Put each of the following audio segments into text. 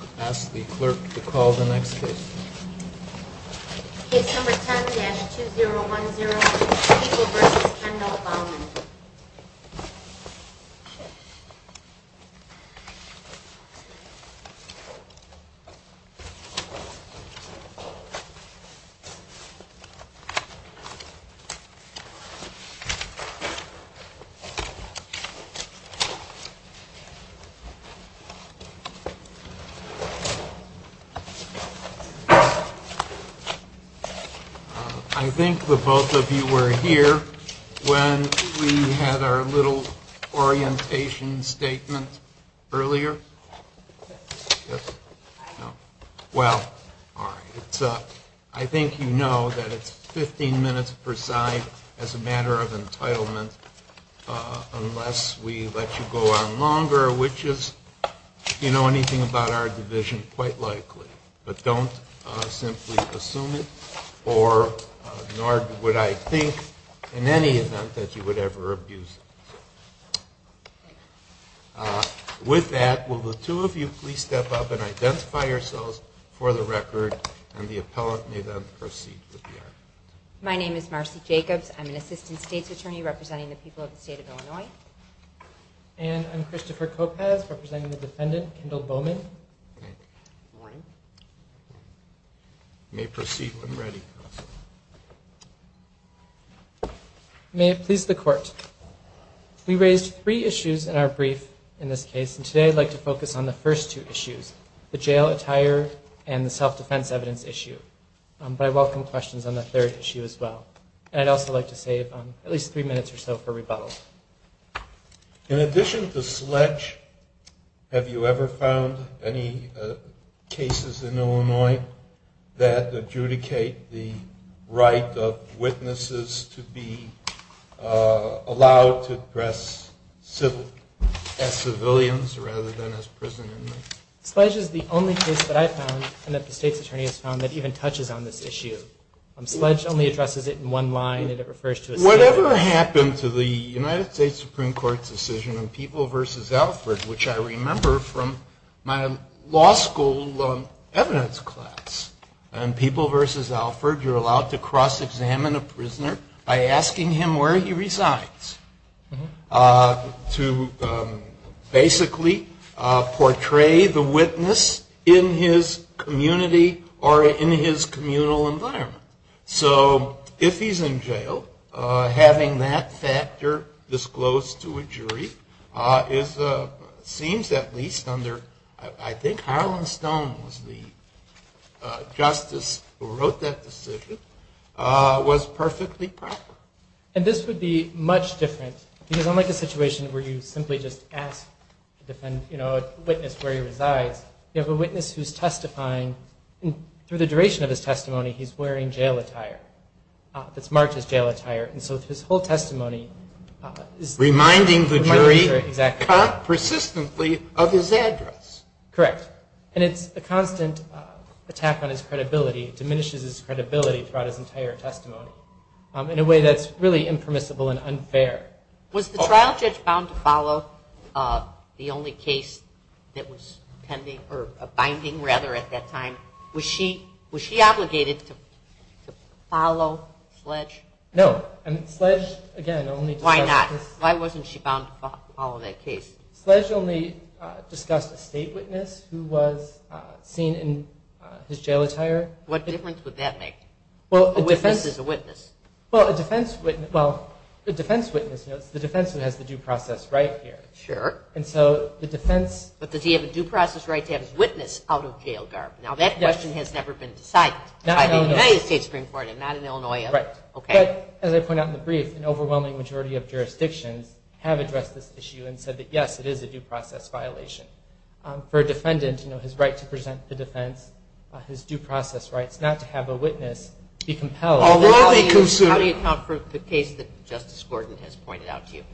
I ask the clerk to call the next witness. It's number 7-2010. It's over. And that's Bowman. I think the both of you were here when we had our little orientation statement earlier. Well, I think you know that it's 15 minutes per side as a matter of entitlement unless we let you go on longer, which is, if you know anything about our division, quite likely. But don't simply assume it, nor would I think in any event that you would ever abuse it. With that, will the two of you please step up and identify yourselves for the record, and the appellate may then proceed with the hearing. My name is Marcia Jacobs. I'm an assistant state's attorney representing the people of the state of Illinois. And I'm Christopher Kopev, representing the defendant, Kendall Bowman. Good morning. Good morning. You may proceed when ready. May it please the court, we raised three issues in our brief in this case, and today I'd like to focus on the first two issues, the jail attire and the self-defense evidence issue, by welcoming questions on the third issue as well. And I'd also like to save at least three minutes or so for rebuttals. In addition to sledge, have you ever found any cases in Illinois that adjudicate the right of witnesses to be allowed to address civilians rather than as prison inmates? Sledge is the only case that I've found, and that the state's attorney has found, that even touches on this issue. Sledge only addresses it in one line, and it refers to it as jail. Whatever happened to the United States Supreme Court's decision in People v. Alford, which I remember from my law school evidence class. In People v. Alford, you're allowed to cross-examine a prisoner by asking him where he resides, to basically portray the witness in his community or in his communal environment. So if he's in jail, having that factor disclosed to a jury seems at least under, I think Harold and Stone was the justice who wrote that decision, was perfectly proper. And this would be much different, because unlike the situation where you simply just ask a witness where he resides, you have a witness who's testifying, and for the duration of his testimony, he's wearing jail attire. It's marked as jail attire. And so his whole testimony is reminding the jury persistently of his address. Correct. And it's a constant attack on his credibility. It diminishes his credibility throughout his entire testimony in a way that's really impermissible and unfair. Was the trial judge bound to follow the only case that was pending, or binding rather at that time? Was she obligated to follow Sledge? No. Why not? Why wasn't she bound to follow that case? Sledge only discussed a state witness who was seen in his jail attire. What difference would that make? A witness is a witness. Well, the defense witness has the due process right here. Sure. But does he have a due process right to have his witness out of jail, Garvin? Now, that question has never been decided. It's in the United States Supreme Court and not in Illinois. Right. As I pointed out in the brief, an overwhelming majority of jurisdictions have addressed this issue and said that, yes, it is a due process violation. For a defendant, his right to present to defense, his due process right not to have a witness be compelled. How do you confer with the case that Justice Gordon has pointed out to you?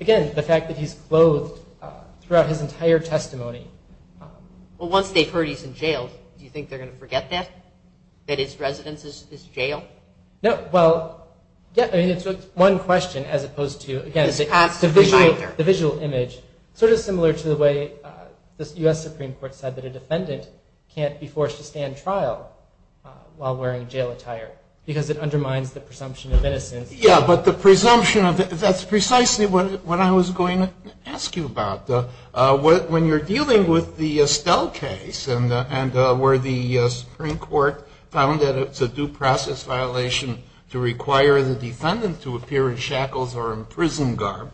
Again, the fact that he's clothed throughout his entire testimony. Well, once they've heard he's in jail, do you think they're going to forget that, that his residence is jail? No. Well, it's just one question as opposed to, again, the visual image. Sort of similar to the way the U.S. Supreme Court said that a defendant can't be forced to stand trial while wearing jail attire, because it undermines the presumption of innocence. Yeah, but the presumption, that's precisely what I was going to ask you about. When you're dealing with the Estelle case and where the Supreme Court found that it's a due process violation to require the defendant to appear in shackles or in prison, Garvin,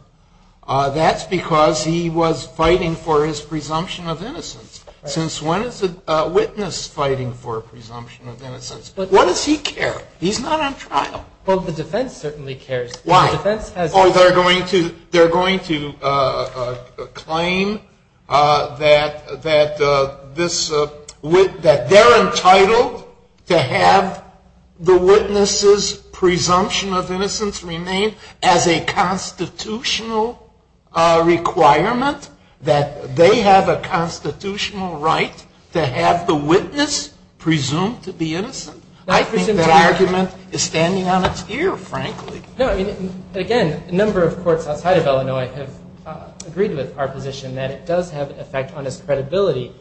that's because he was fighting for his presumption of innocence. Since when is a witness fighting for a presumption of innocence? Why does he care? He's not on trial. Well, the defense certainly cares. Why? They're going to claim that they're entitled to have the witness's presumption of innocence remain as a constitutional requirement, that they have a constitutional right to have the witness presumed to be innocent. I think that argument is standing on its ear, frankly. Again, a number of courts outside of Illinois have agreed to the proposition that it does have an effect on his credibility.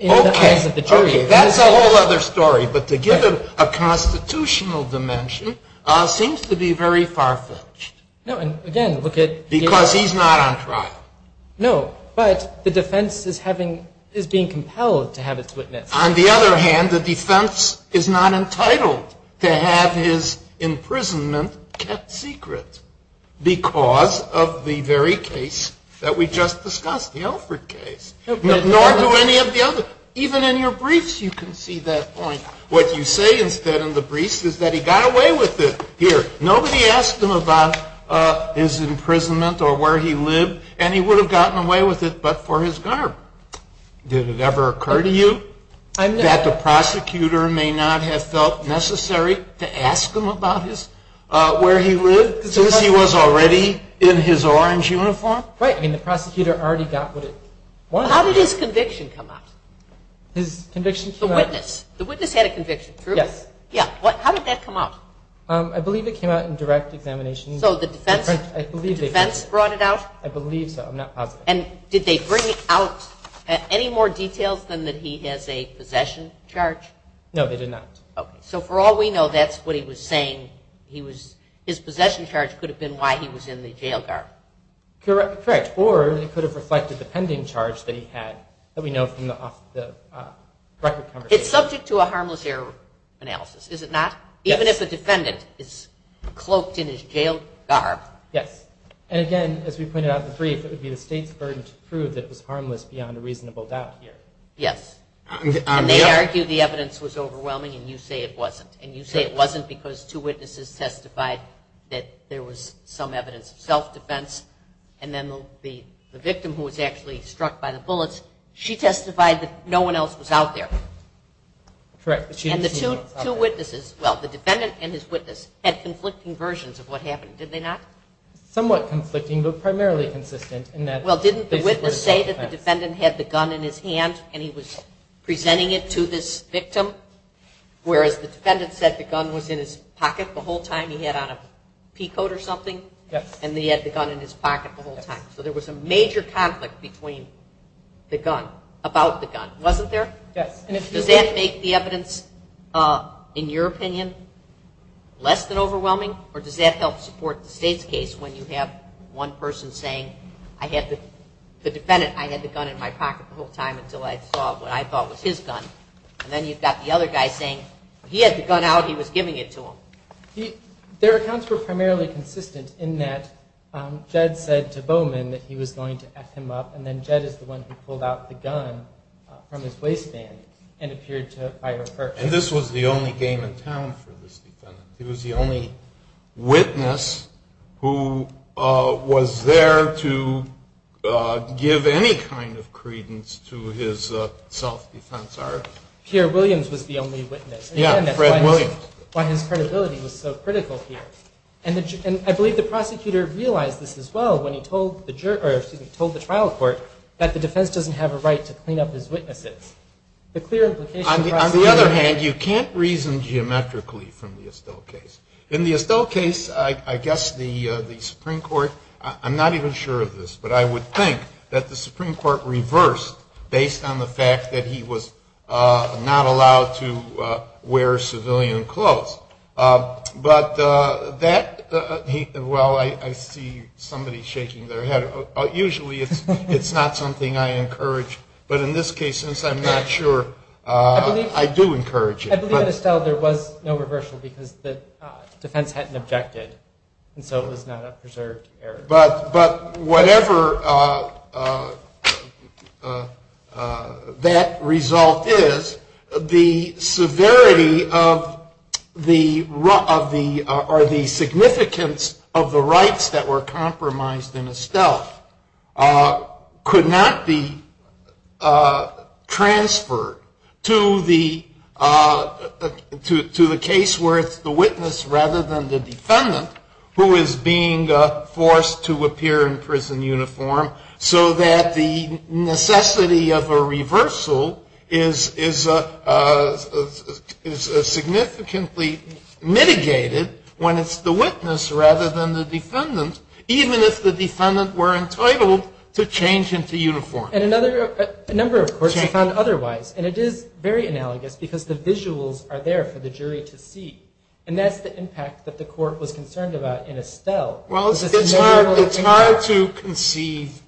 Okay, that's a whole other story. But to give him a constitutional dimension seems to be very far-fetched, because he's not on trial. No, but the defense is being compelled to have its witness. On the other hand, the defense is not entitled to have his imprisonment kept secret because of the very case that we just discussed, the Elford case, nor do any of the others. Even in your briefs you can see that point. What you say instead in the briefs is that he got away with it. Here, nobody asked him about his imprisonment or where he lived, and he would have gotten away with it but for his gunner. Did it ever occur to you that the prosecutor may not have felt necessary to ask him about where he lived, since he was already in his orange uniform? Right, and the prosecutor already got away with it. How did his conviction come out? His conviction came out? The witness. The witness had a conviction, true? Yes. How did that come out? I believe it came out in direct examination. So the defense brought it out? I believe so. And did they bring out any more details than that he has a possession charge? No, they did not. Okay. So for all we know, that's what he was saying. His possession charge could have been why he was in the jail guard. Correct. Or it could have reflected a pending charge that he had that we know from the record. It's subject to a harmless error analysis, is it not? Yes. Even if a defendant is cloaked in his jail garb. Yes. And again, as we pointed out in the brief, it would be a state burden to prove that it was harmless beyond a reasonable doubt. Yes. Yes. And they argued the evidence was overwhelming, and you say it wasn't. And you say it wasn't because two witnesses testified that there was some evidence of self-defense, and then the victim, who was actually struck by the bullets, she testified that no one else was out there. Correct. And the two witnesses, well, the defendant and his witness, had conflicting versions of what happened, did they not? Somewhat conflicting, but primarily consistent. Well, didn't the witness say that the defendant had the gun in his hand and he was presenting it to this victim, whereas the defendant said the gun was in his pocket the whole time he had on a peacoat or something? Yes. And he had the gun in his pocket the whole time. So there was a major conflict between the gun, about the gun, wasn't there? Does that make the evidence, in your opinion, less than overwhelming, or does that help support the state's case when you have one person saying, the defendant, I had the gun in my pocket the whole time until I saw what I thought was his gun. And then you've got the other guy saying, he had the gun out, he was giving it to him. Their accounts were primarily consistent in that Jed said to Bowman that he was going to F him up, and then Jed is the one who pulled out the gun from his waistband and appeared to fire at her. And this was the only game in town for this defendant. He was the only witness who was there to give any kind of credence to his self-defense argument. Here, Williams was the only witness. Yes, Fred Williams. But his credibility was so critical here. And I believe the prosecutor realized this as well when he told the trial court that the defense doesn't have a right to clean up his witnesses. On the other hand, you can't reason geometrically from the Estelle case. In the Estelle case, I guess the Supreme Court, I'm not even sure of this, but I would think that the Supreme Court reversed based on the fact that he was not allowed to wear civilian clothes. But that, well, I see somebody shaking their head. Usually it's not something I encourage. But in this case, since I'm not sure, I do encourage it. I believe in Estelle there was no reversal because the defense hadn't objected, and so it was not a preserved error. But whatever that result is, the severity or the significance of the rights that were compromised in Estelle could not be transferred to the case where it's the witness rather than the defendant who is being forced to appear in prison uniform so that the necessity of a reversal is significantly mitigated when it's the witness rather than the defendant, even if the defendant were entitled to change into uniform. And a number of courts found otherwise. And it is very analogous because the visuals are there for the jury to see. And that's the impact that the court was concerned about in Estelle. Well, it's hard to conceive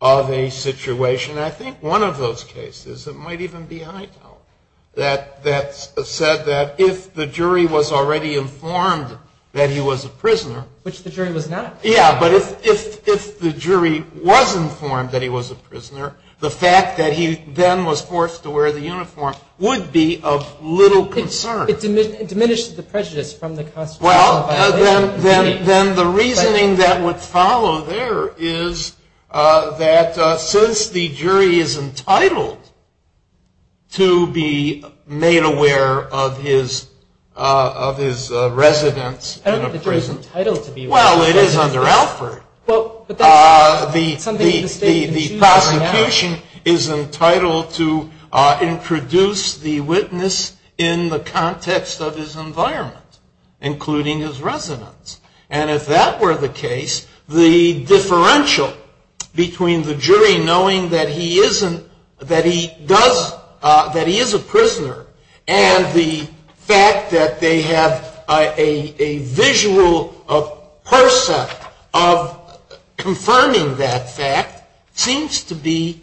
of a situation. I think one of those cases, it might even be Eitel, that said that if the jury was already informed that he was a prisoner... Which the jury was not. Yeah, but if the jury was informed that he was a prisoner, the fact that he then was forced to wear the uniform would be of little concern. It diminishes the prejudice from the constitutional... Well, then the reasoning that would follow there is that since the jury is entitled to be made aware of his residence in a prison... I don't think the jury is entitled to be made aware. Well, it is under effort. The prosecution is entitled to introduce the witness in the context of his environment, including his residence. And if that were the case, the differential between the jury knowing that he is a prisoner and the fact that they have a visual person confirming that fact seems to be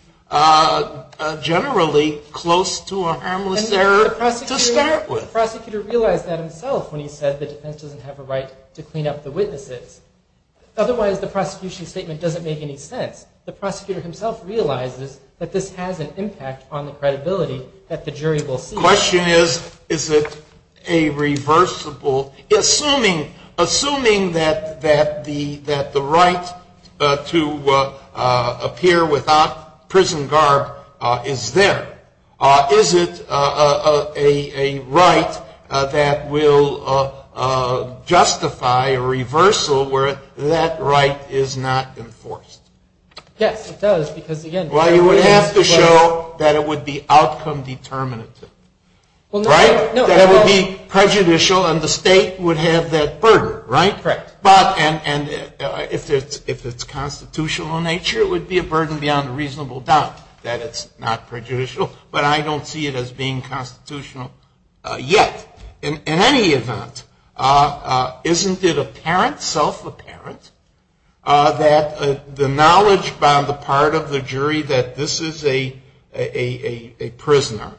generally close to a harmless error to start with. And the prosecutor realized that himself when he said the defense doesn't have a right to clean up the witnesses. Otherwise, the prosecution statement doesn't make any sense. The prosecutor himself realizes that this has an impact on the credibility that the jury will see. The question is, is it a reversible... Assuming that the right to appear without prison guard is there, is it a right that will justify a reversal where that right is not enforced? Yes, it does. Well, you would have to show that it would be outcome determinative, right? That it would be prejudicial and the state would have that burden, right? And if it's constitutional in nature, it would be a burden beyond a reasonable doubt that it's not prejudicial, but I don't see it as being constitutional yet. In any event, isn't it apparent, self-apparent, that the knowledge by the part of the jury that this is a prisoner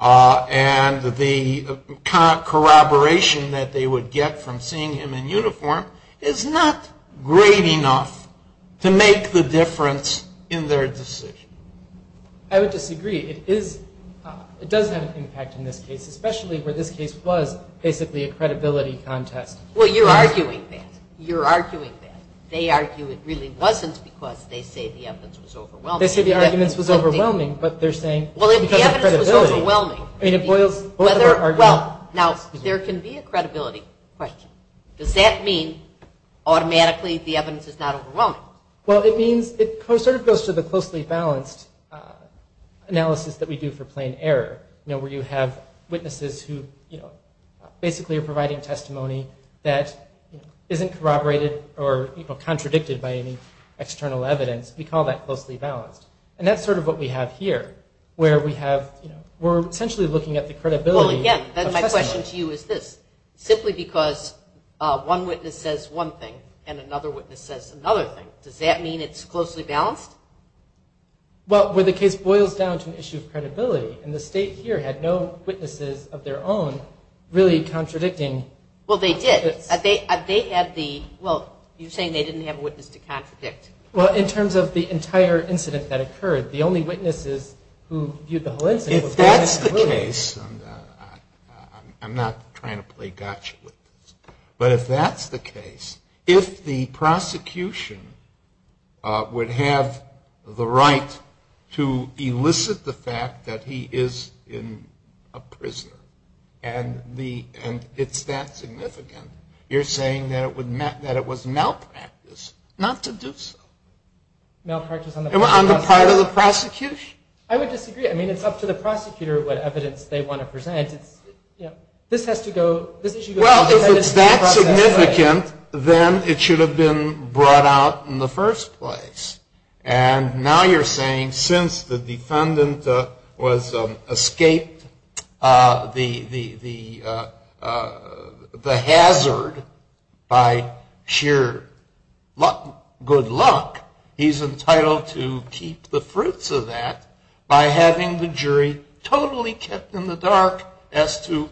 and the kind of corroboration that they would get from seeing him in uniform is not great enough to make the difference in their decision? I would disagree. I would disagree. It does have an impact in this case, especially where this case was basically a credibility contest. Well, you're arguing that. You're arguing that. They argue it really wasn't because they say the evidence was overwhelming. They say the evidence was overwhelming, but they're saying... Well, if the evidence was overwhelming... Now, there can be a credibility question. Does that mean automatically the evidence is not overwhelming? Well, it sort of goes to the closely balanced analysis that we do for plain error, where you have witnesses who basically are providing testimony that isn't corroborated or contradicted by any external evidence. We call that closely balanced, and that's sort of what we have here, where we're essentially looking at the credibility... Yes, and my question to you is this. If it's simply because one witness says one thing and another witness says another thing, does that mean it's closely balanced? Well, where the case boils down to an issue of credibility, and the state here had no witnesses of their own really contradicting... Well, they did. They had the... Well, you're saying they didn't have a witness to contradict. Well, in terms of the entire incident that occurred, the only witnesses who viewed the whole incident... If that's the case, and I'm not trying to play gotcha with this, but if that's the case, if the prosecution would have the right to elicit the fact that he is a prisoner, and it's that significant, you're saying that it was malpractice not to do so. Malpractice on the part of the prosecution? I would disagree. I mean, it's up to the prosecutor what evidence they want to present. This has to go... Well, if it's that significant, then it should have been brought out in the first place. And now you're saying since the defendant was escaped the hazard by sheer good luck, he's entitled to keep the fruits of that by having the jury totally kept in the dark as to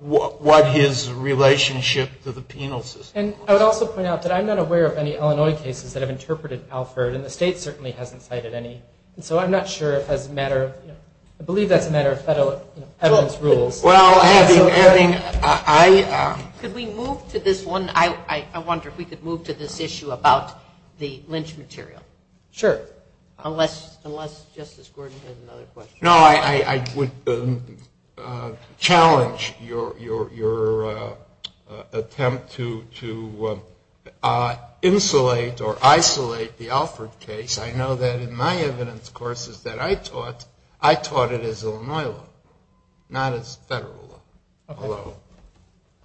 what his relationship to the penal system... And I would also point out that I'm not aware of any Illinois cases that have interpreted Alford, and the state certainly hasn't cited any. So I'm not sure if that's a matter... I believe that's a matter of federal rules. Could we move to this one? I wonder if we could move to this issue about the lynch material. Sure. Unless Justice Gordon has another question. No, I would challenge your attempt to insulate or isolate the Alford case. I know that in my evidence courses that I taught, I taught it as Illinois law, not as federal law.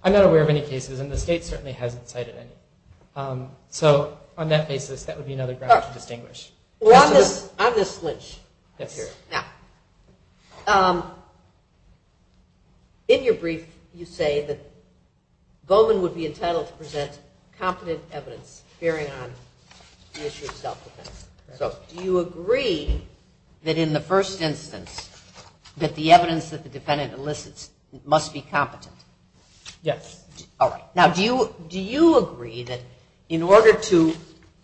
I'm not aware of any cases, and the state certainly hasn't cited any. So on that basis, that would be another ground to distinguish. Well, I'm going to switch. Let's hear it. Now, in your brief, you say that Bowman would be entitled to present competent evidence bearing on the issue of self-defense. Do you agree that in the first instance that the evidence that the defendant elicits must be competent? Yes. Now, do you agree that in order to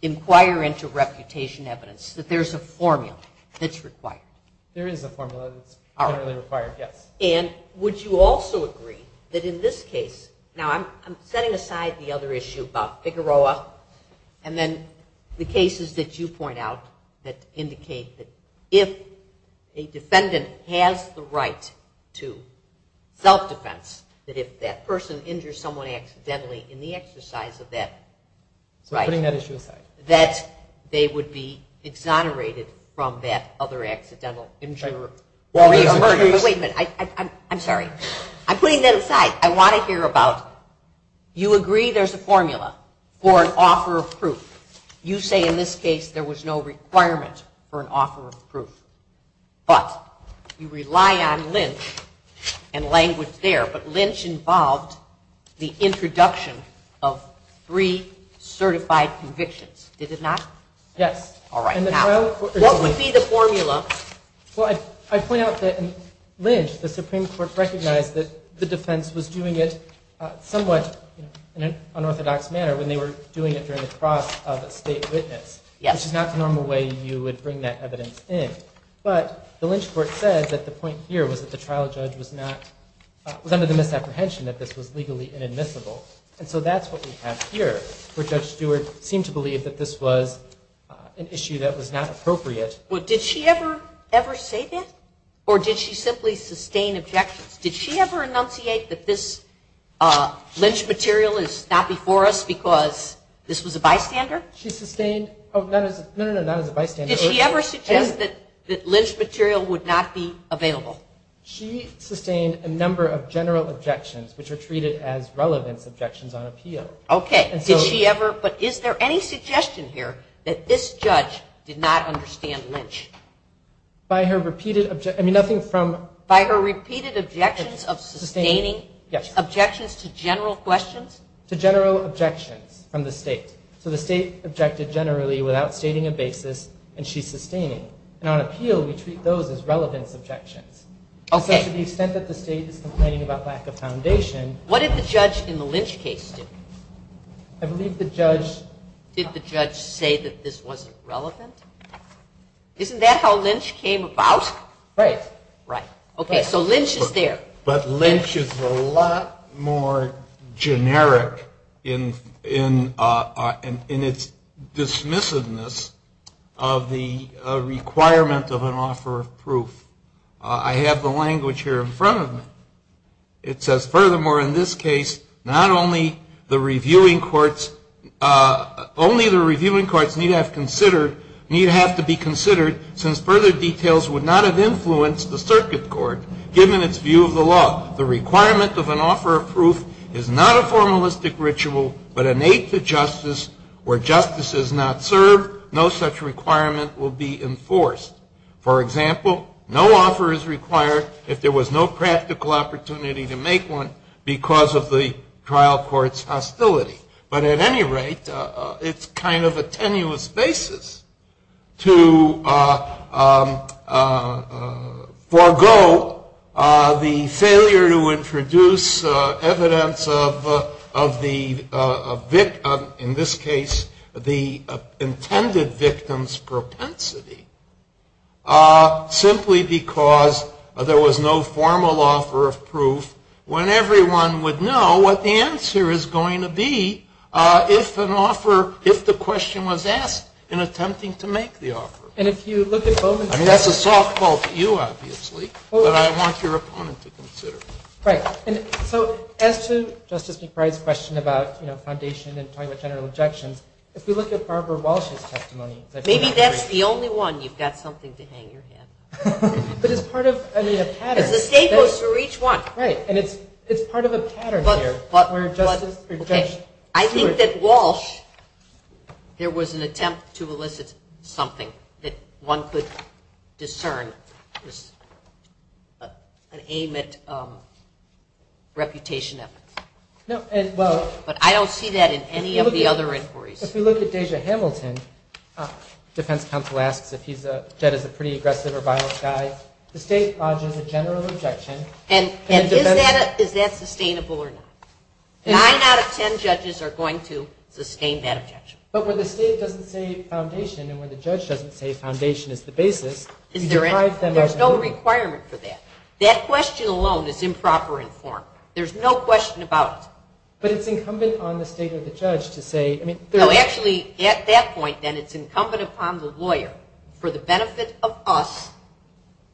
inquire into reputation evidence, that there's a formula that's required? There is a formula that's required, yes. And would you also agree that in this case... Now, I'm setting aside the other issue about Figueroa and then the cases that you point out that indicate that if a defendant has the right to self-defense, that if that person injures someone accidentally in the exercise of that... Putting that issue aside. ...that they would be exonerated from that other accidental injury. Wait a minute. I'm sorry. I'm putting that aside. I want to hear about... You agree there's a formula for an offer of proof. You say in this case there was no requirement for an offer of proof. But you rely on Lynch and language there. But Lynch involved the introduction of three certified convictions. Did it not? Yes. All right. Now, what would be the formula? Well, I point out that in Lynch, the Supreme Court recognized that the defense was doing it somewhat in an unorthodox manner when they were doing it during the cross of state witness. Yes. Which is not the normal way you would bring that evidence in. But the Lynch court said that the point here was that the trial judge was not... was under the misapprehension that this was legally inadmissible. And so that's what we have here, where Judge Stewart seemed to believe that this was an issue that was not appropriate. Well, did she ever say that? Or did she simply sustain objections? Did she ever enunciate that this Lynch material is not before us because this was a bystander? She sustained... Oh, no, no, no, not as a bystander. Did she ever suggest that Lynch material would not be available? She sustained a number of general objections, which are treated as relevant objections on appeal. Okay. But is there any suggestion here that this judge did not understand Lynch? By her repeated... I mean, nothing from... By her repeated objections of sustaining objections to general questions? To general objections from the state. So the state objected generally without stating a basis, and she sustained. And on appeal, we treat those as relevant objections. Also, to the extent that the state is complaining about lack of foundation... What did the judge in the Lynch case do? I believe the judge... Did the judge say that this wasn't relevant? Isn't that how Lynch came about? Right. Right. Okay, so Lynch is there. But Lynch is a lot more generic in its dismissiveness of the requirement of an offer of proof. I have the language here in front of me. It says, furthermore, in this case, not only the reviewing courts... Only the reviewing courts need have to be considered, since further details would not have influenced the circuit court, given its view of the law. The requirement of an offer of proof is not a formalistic ritual, but innate to justice. Where justice is not served, no such requirement will be enforced. For example, no offer is required if there was no practical opportunity to make one because of the trial court's hostility. But at any rate, it's kind of a tenuous basis to forego the failure to introduce evidence of the victim, in this case, the intended victim's propensity, simply because there was no formal offer of proof, when everyone would know what the answer is going to be if the question was asked in attempting to make the offer. And if you look at both... I mean, that's a softball for you, obviously, but I want your opponent to consider it. Right. And so, as to Justice McBride's question about, you know, foundation and total general exception, if we look at Barbara Walsh's testimony... Maybe that's the only one you've got something to hang your head. But it's part of, I mean, a pattern. The table's for each one. Right. And it's part of a pattern here. I think that Walsh, there was an attempt to elicit something that one could discern, an aim at reputation. But I don't see that in any of the other inquiries. If you look at Deja Hamilton, defense counsel asked if he's said as a pretty aggressive or violent guy, the state's odds of a general rejection... And is that sustainable or not? Nine out of ten judges are going to sustain that objection. But when the state doesn't say foundation and when the judge doesn't say foundation is the basis... There's no requirement for that. That question alone is improper in form. There's no question about it. But it's incumbent on the state and the judge to say... No, actually, at that point, then, it's incumbent upon the lawyer for the benefit of us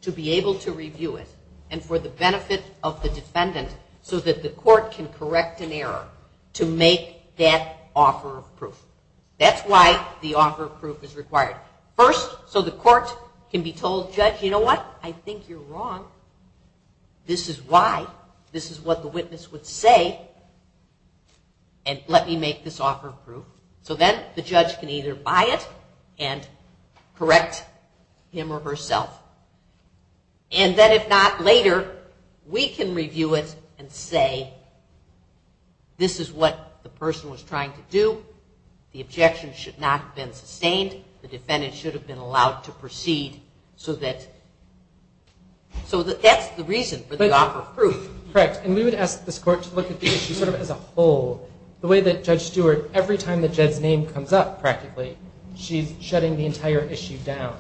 to be able to review it and for the benefit of the defendant so that the court can correct an error to make that offer of proof. That's why the offer of proof is required. First, so the court can be told, judge, you know what? I think you're wrong. This is why. This is what the witness would say. And let me make this offer of proof. So then the judge can either buy it and correct him or herself. And then, if not, later, we can review it and say, this is what the person was trying to do. The objection should not have been sustained. The defendant should have been allowed to proceed so that... So that's the reason for the offer of proof. Correct. And we would ask this court to look at the issue sort of as a whole. The way that Judge Stewart, every time the judge's name comes up, practically, she's shutting the entire issue down.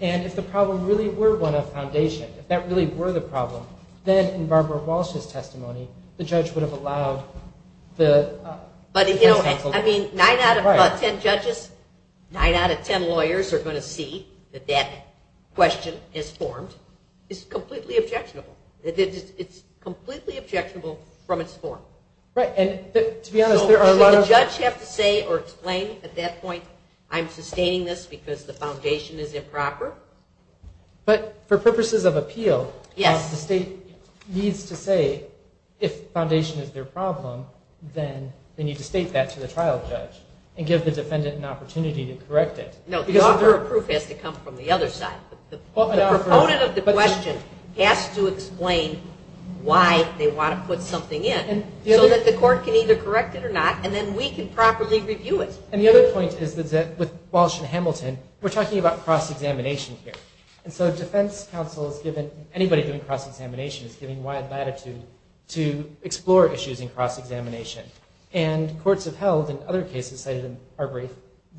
And if the problem really were one of foundation, if that really were the problem, then in Barbara Walsh's testimony, the judge would have allowed the... But, you know, I mean, 9 out of 10 judges, 9 out of 10 lawyers are going to see that that question is formed. It's completely objectionable. It's completely objectionable from its form. Right, and to be honest, there are a lot of... But for purposes of appeal, the state needs to say, if foundation is their problem, then they need to state that to the trial judge and give the defendant an opportunity to correct it. No, the offer of proof has to come from the other side. The proponent of the question has to explain why they want to put something in so that the court can either correct it or not, and then we can properly review it. And the other point is that with Walsh and Hamilton, we're talking about cross-examination here. And so defense counsel, anybody doing cross-examination is given wide latitude to explore issues in cross-examination. And courts have held, in other cases,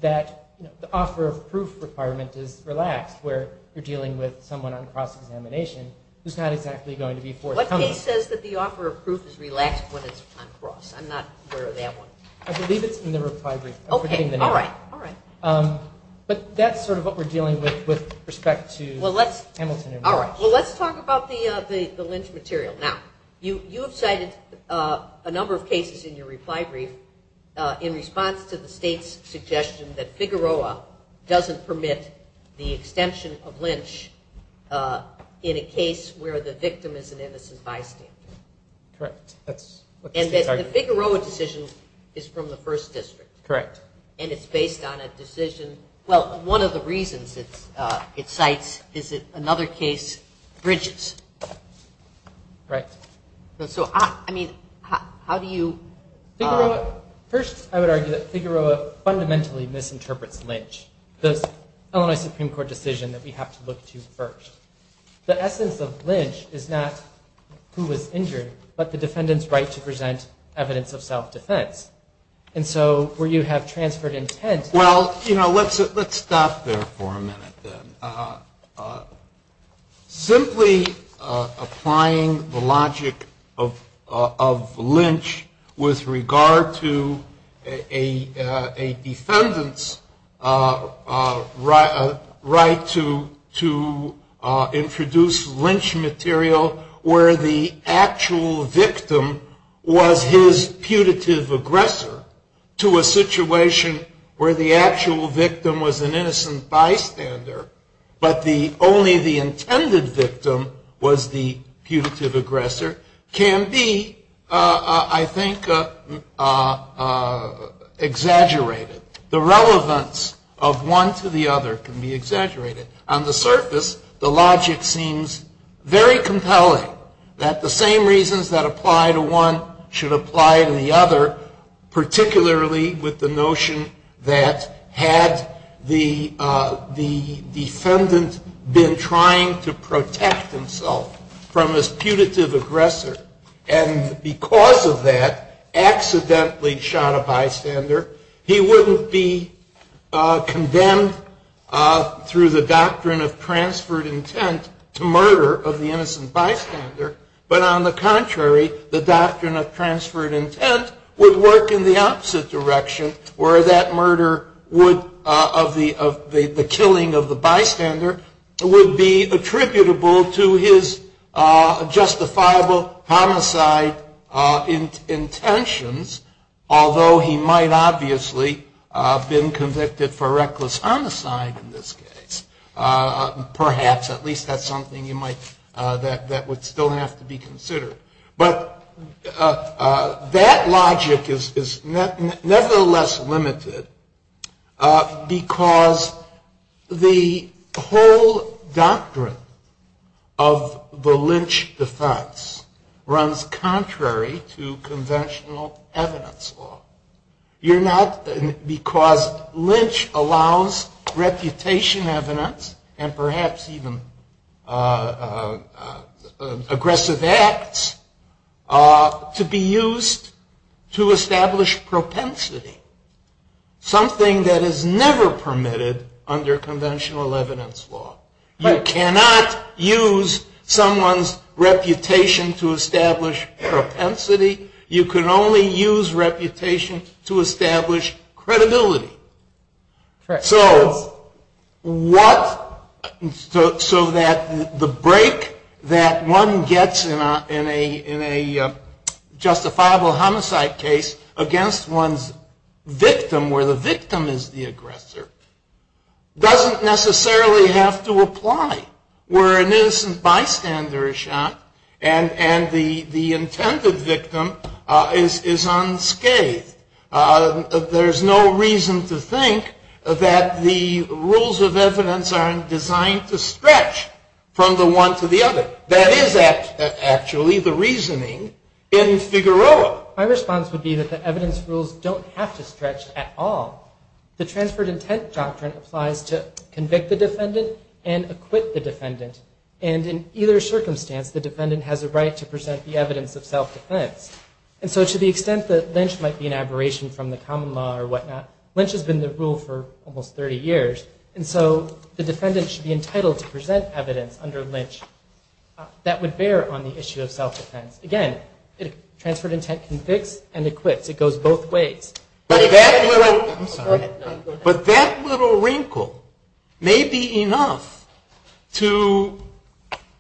that the offer of proof requirement is relaxed, where you're dealing with someone on cross-examination who's not exactly going to be forthcoming. What case says that the offer of proof is relaxed when it's on cross? I'm not aware of that one. I believe it's in the reply brief. Okay, all right. But that's sort of what we're dealing with with respect to Hamilton. All right. Well, let's talk about the Lynch material. Now, you have cited a number of cases in your reply brief in response to the state's suggestion that Figueroa doesn't permit the extension of Lynch in a case where the victim is an innocent bystander. Correct. And that the Figueroa decision is from the first district. Correct. And it's based on a decision. Well, one of the reasons it cites is another case, Bridges. Right. So, I mean, how do you... First, I would argue that Figueroa fundamentally misinterprets Lynch, the Illinois Supreme Court decision that we have to look to first. The essence of Lynch is not who was injured, but the defendant's right to present evidence of self-defense. And so, where you have transferred intent... Well, you know, let's stop there for a minute, then. Simply applying the logic of Lynch with regard to a defendant's right to introduce Lynch material where the actual victim was his putative aggressor to a situation where the actual victim was an innocent bystander, but only the intended victim was the putative aggressor, can be, I think, exaggerated. The relevance of one to the other can be exaggerated. On the surface, the logic seems very compelling, that the same reasons that apply to one should apply to the other, particularly with the notion that had the defendant been trying to protect himself from his putative aggressor and because of that accidentally shot a bystander, he wouldn't be condemned through the doctrine of transferred intent to murder of the innocent bystander, but on the contrary, the doctrine of transferred intent would work in the opposite direction, where that murder of the killing of the bystander would be attributable to his justifiable homicide intentions, although he might obviously have been convicted for reckless homicide in this case. Perhaps, at least that's something that would still have to be considered. But that logic is nevertheless limited because the whole doctrine of the Lynch defense runs contrary to conventional evidence law. Because Lynch allows reputation evidence and perhaps even aggressive acts to be used to establish propensity, something that is never permitted under conventional evidence law. You cannot use someone's reputation to establish propensity. You can only use reputation to establish credibility. So that the break that one gets in a justifiable homicide case against one's victim, where the victim is the aggressor, doesn't necessarily have to apply. Where an innocent bystander is shot and the intended victim is unscathed, there's no reason to think that the rules of evidence aren't designed to stretch from the one to the other. That is actually the reasoning in Figueroa. My response would be that the evidence rules don't have to stretch at all. The transferred intent doctrine applies to convict the defendant and acquit the defendant. And in either circumstance, the defendant has a right to present the evidence of self-defense. And so to the extent that Lynch might be an aberration from the common law or whatnot, Lynch has been the rule for almost 30 years. And so the defendant should be entitled to present evidence under Lynch that would bear on the issue of self-defense. Again, if transferred intent convicts and acquits, it goes both ways. But that little wrinkle may be enough to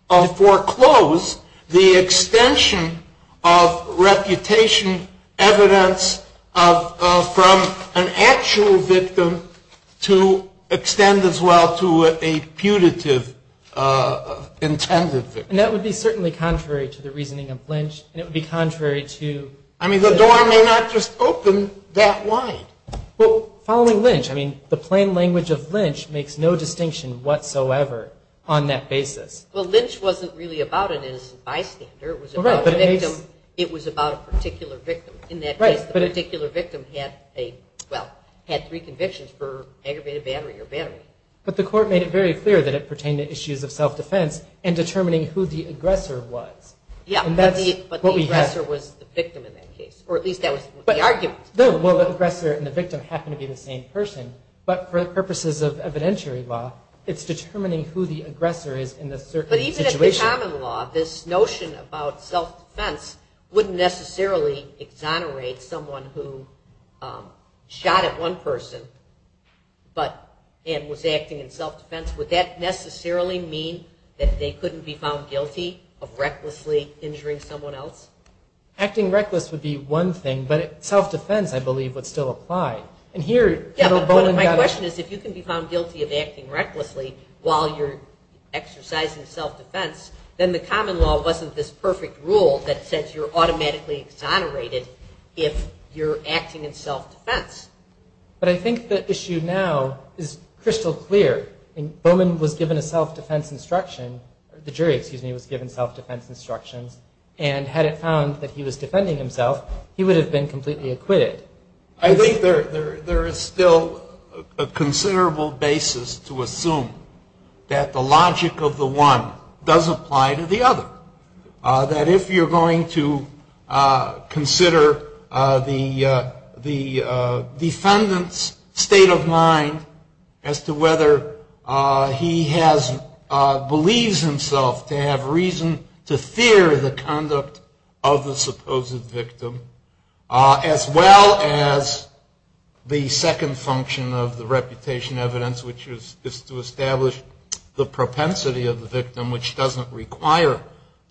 foreclose the extension of reputation evidence from an actual victim to extend as well to a putative intended victim. And that would be certainly contrary to the reasoning of Lynch. I mean, the door may not just open that wide. Well, following Lynch, I mean, the plain language of Lynch makes no distinction whatsoever on that basis. Well, Lynch wasn't really about an innocent bystander. It was about a particular victim. In that case, the particular victim had three convictions for aggravated battery or battery. But the court made it very clear that it pertained to issues of self-defense and determining who the aggressor was. Yeah, but the aggressor was the victim in that case. Or at least that was the argument. No, well, the aggressor and the victim happen to be the same person. But for the purposes of evidentiary law, it's determining who the aggressor is in a certain situation. But even in the common law, this notion about self-defense wouldn't necessarily exonerate someone who shot at one person and was acting in self-defense. Would that necessarily mean that they couldn't be found guilty of recklessly injuring someone else? Acting reckless would be one thing, but self-defense, I believe, would still apply. My question is, if you can be found guilty of acting recklessly while you're exercising self-defense, then the common law wasn't this perfect rule that says you're automatically exonerated if you're acting in self-defense. But I think the issue now is crystal clear. Bowman was given a self-defense instruction. The jury, excuse me, was given self-defense instruction. And had it found that he was defending himself, he would have been completely acquitted. I think there is still a considerable basis to assume that the logic of the one does apply to the other. That if you're going to consider the defendant's state of mind as to whether he believes himself to have reason to fear the conduct of the supposed victim, as well as the second function of the reputation evidence, which is to establish the propensity of the victim, which doesn't require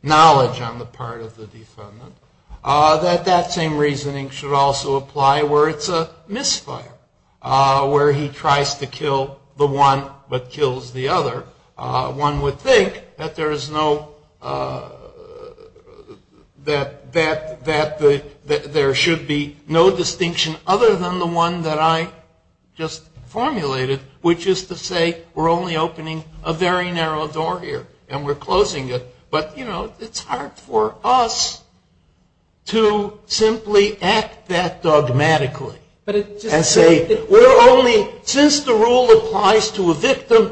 knowledge on the part of the defendant, that that same reasoning should also apply where it's a misfire, where he tries to kill the one but kills the other. One would think that there should be no distinction other than the one that I just formulated, which is to say we're only opening a very narrow door here and we're closing it. But, you know, it's hard for us to simply act that dogmatically and say, we're only, since the rule applies to a victim,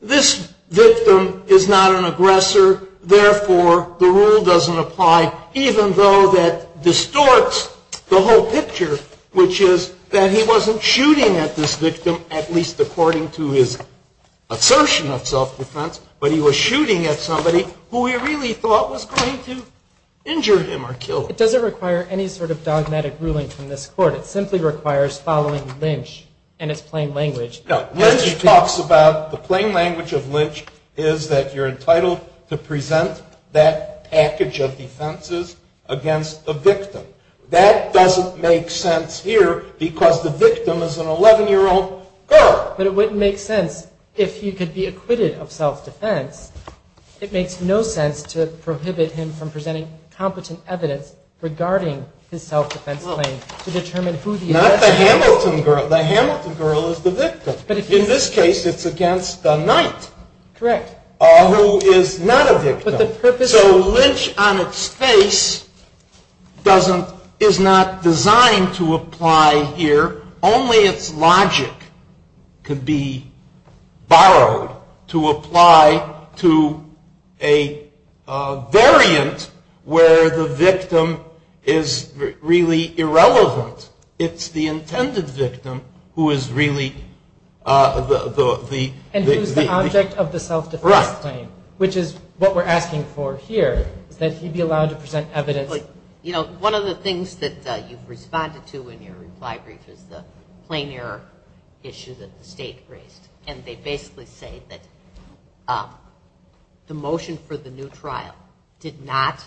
this victim is not an aggressor, therefore the rule doesn't apply even though that distorts the whole picture, which is that he wasn't shooting at this victim, at least according to his assertion of self-defense, but he was shooting at somebody who he really thought was going to injure him or kill him. It doesn't require any sort of dogmatic ruling from this court. It simply requires following Lynch and its plain language. Now, Lynch talks about the plain language of Lynch is that you're entitled to present that package of defenses against the victim. That doesn't make sense here because the victim is an 11-year-old girl. But it wouldn't make sense if he could be acquitted of self-defense. It makes no sense to prohibit him from presenting competent evidence regarding his self-defense claims to determine who the aggressor is. Not the Hamilton girl. The Hamilton girl is the victim. In this case, it's against the knife. Correct. Or who is not a victim. So Lynch on its face is not designed to apply here. Only its logic could be borrowed to apply to a variant where the victim is really irrelevant. It's the intended victim who is really the... And who is the object of the self-defense claim, which is what we're asking for here. That he be allowed to present evidence... You know, one of the things that you've responded to in your reply brief is the plain air issues that the state raised. And they basically say that the motion for the new trial did not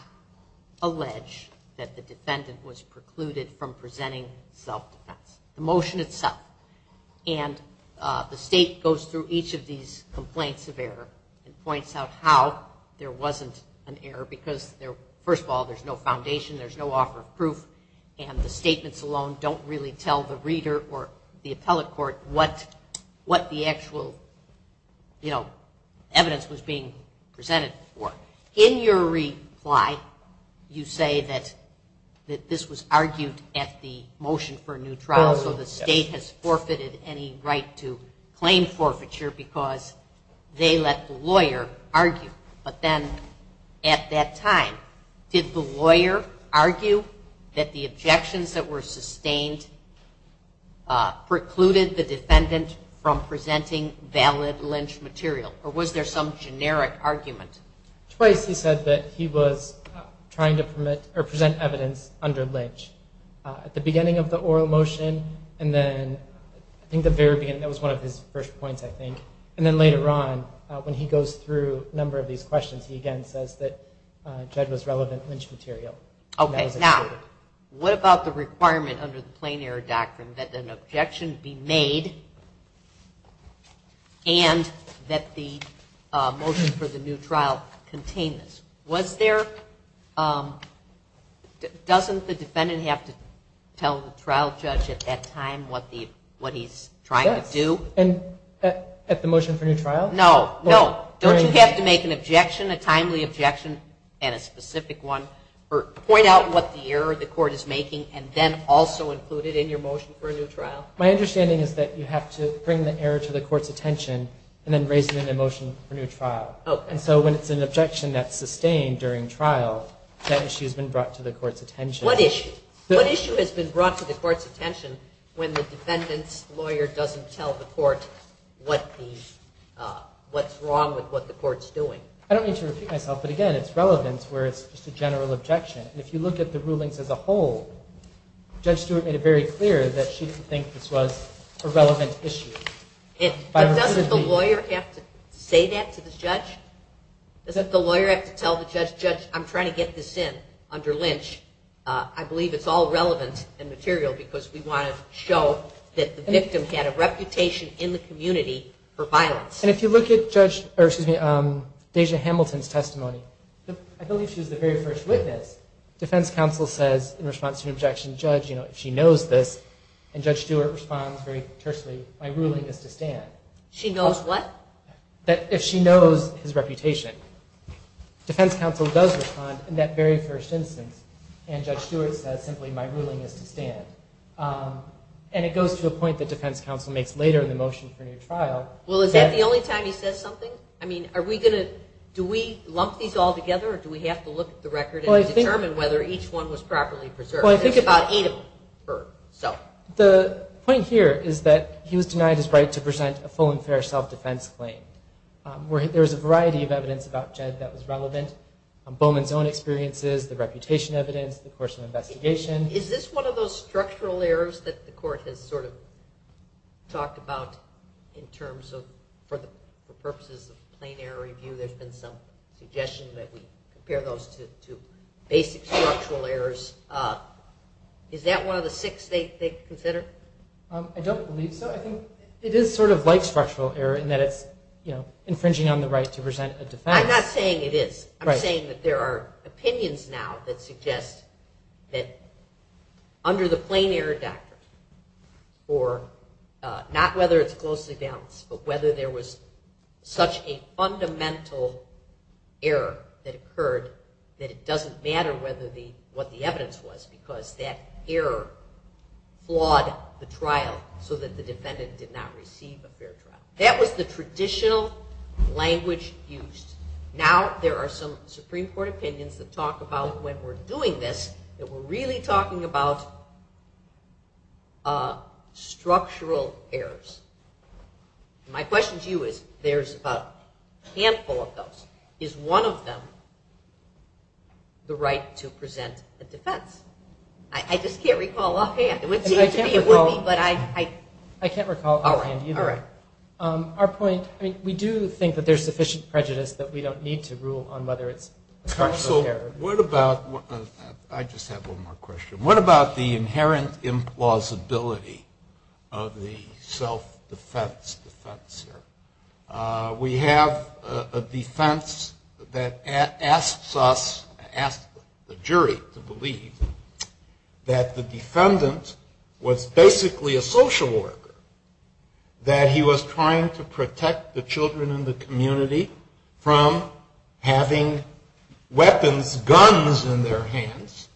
allege that the defendant was precluded from presenting self-defense. The motion itself. And the state goes through each of these complaints of error and points out how there wasn't an error. Because, first of all, there's no foundation. There's no offer of proof. And the statements alone don't really tell the reader or the appellate court what the actual, you know, evidence was being presented for. In your reply, you say that this was argued at the motion for a new trial. So the state has forfeited any right to claim forfeiture because they let the lawyer argue. But then, at that time, did the lawyer argue that the objections that were sustained precluded the defendant from presenting valid Lynch material? Or was there some generic argument? He said that he was trying to present evidence under Lynch. At the beginning of the oral motion, and then, I think at the very beginning, that was one of his first points, I think. And then later on, when he goes through a number of these questions, he again says that that was relevant Lynch material. Okay. Now, what about the requirement under the plain error doctrine that an objection be made and that the motion for the new trial contain this? Was there – doesn't the defendant have to tell the trial judge at that time what he's trying to do? At the motion for new trial? No, no. Don't you have to make an objection, a timely objection, and a specific one, or point out what the error the court is making, and then also include it in your motion for a new trial? My understanding is that you have to bring the error to the court's attention and then raise it in the motion for a new trial. Okay. And so when it's an objection that's sustained during trial, that issue has been brought to the court's attention. What issue? What issue has been brought to the court's attention when the defendant's lawyer doesn't tell the court what's wrong with what the court's doing? I don't mean to repeat myself, but again, it's relevance where it's just a general objection. If you look at the rulings as a whole, Judge Stewart made it very clear that she thinks this was a relevant issue. But doesn't the lawyer have to say that to the judge? Doesn't the lawyer have to tell the judge, Judge, I'm trying to get this in under Lynch. I believe it's all relevant and material because we want to show that the victim had a reputation in the community for violence. And if you look at Judge, or excuse me, Deja Hamilton's testimony, I believe she was the very first witness. The defense counsel said in response to an objection, Judge, you know, she knows this. And Judge Stewart responds very personally by ruling it to stand. She knows what? If she knows his reputation, defense counsel does respond in that very first instance. And Judge Stewart says simply, my ruling is to stand. And it goes to a point that defense counsel makes later in the motion for your trial. Well, is that the only time you've said something? I mean, are we going to, do we lump these all together or do we have to look at the record and determine whether each one was properly preserved? Well, I think about eight of them. The point here is that he was denied his right to present a full and fair self-defense claim. There's a variety of evidence about Judge that was relevant. Bowman's own experiences, the reputation evidence, the course of investigation. Is this one of those structural errors that the court has sort of talked about in terms of, for the purposes of plain error review, there's been some suggestion that we compare those to basic structural errors. Is that one of the six they consider? I don't believe so. I think it is sort of like structural error in that it's infringing on the right to present a defense. I'm not saying it is. I'm saying that there are opinions now that suggest that under the plain error doubt, or not whether it's close to doubt, but whether there was such a fundamental error that occurred that it doesn't matter what the evidence was because that error flawed the trial so that the defendant did not receive a fair trial. That was the traditional language used. Now there are some Supreme Court opinions that talk about when we're doing this that we're really talking about structural errors. My question to you is there's a handful of those. Is one of them the right to present a defense? I just can't recall offhand. I can't recall offhand either. All right. Our point, we do think that there's sufficient prejudice that we don't need to rule on whether it's a structural error. So what about, I just have one more question. What about the inherent implausibility of the self-defense defense? We have a defense that asks us, asks the jury to believe that the defendant was basically a social worker, that he was trying to protect the children in the community from having weapons, guns in their hands,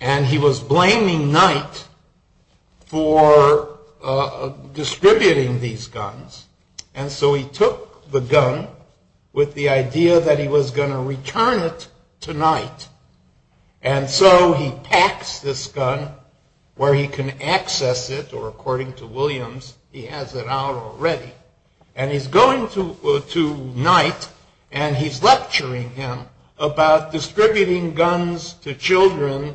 and he was blaming Knight for distributing these guns. And so he took the gun with the idea that he was going to return it tonight. And so he packs this gun where he can access it, or according to Williams, he has it out already. And he's going to Knight, and he's lecturing him about distributing guns to children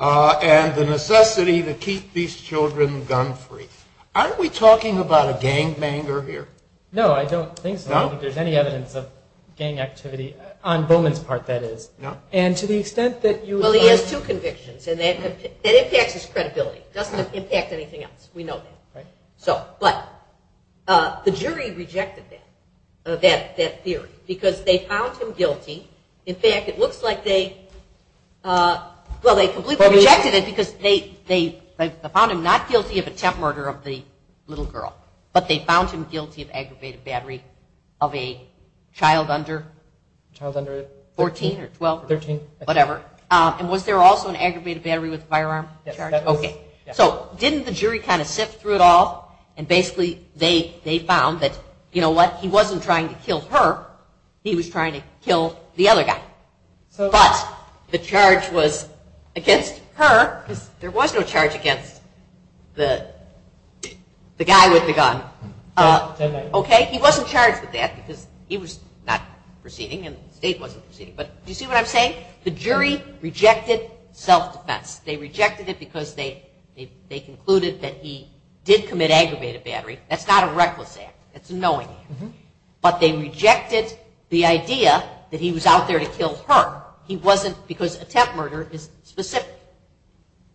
and the necessity to keep these children gun-free. Aren't we talking about a gangbanger here? No, I don't think so. There's any evidence of gang activity on Bowman's part, that is. No. And to the extent that you... Well, he has two convictions, and that impacts his credibility. It doesn't impact anything else. We know that. But the jury rejected that theory because they found him guilty. In fact, it looks like they completely rejected it because they found him not guilty of attempt murder of the little girl, but they found him guilty of aggravated battery of a child under 14 or 12, whatever. And was there also an aggravated battery with a firearm charge? Yes. Okay. So didn't the jury kind of sift through it all, and basically they found that, you know what, he wasn't trying to kill her, he was trying to kill the other guy. But the charge was against her, because there was no charge against the guy with the gun. Okay? He wasn't charged with that because he was not proceeding, and Dave wasn't proceeding. But do you see what I'm saying? The jury rejected self-defense. They rejected it because they concluded that he did commit aggravated battery. That's not a reckless act. That's a knowing act. But they rejected the idea that he was out there to kill her. He wasn't because attempt murder is specific.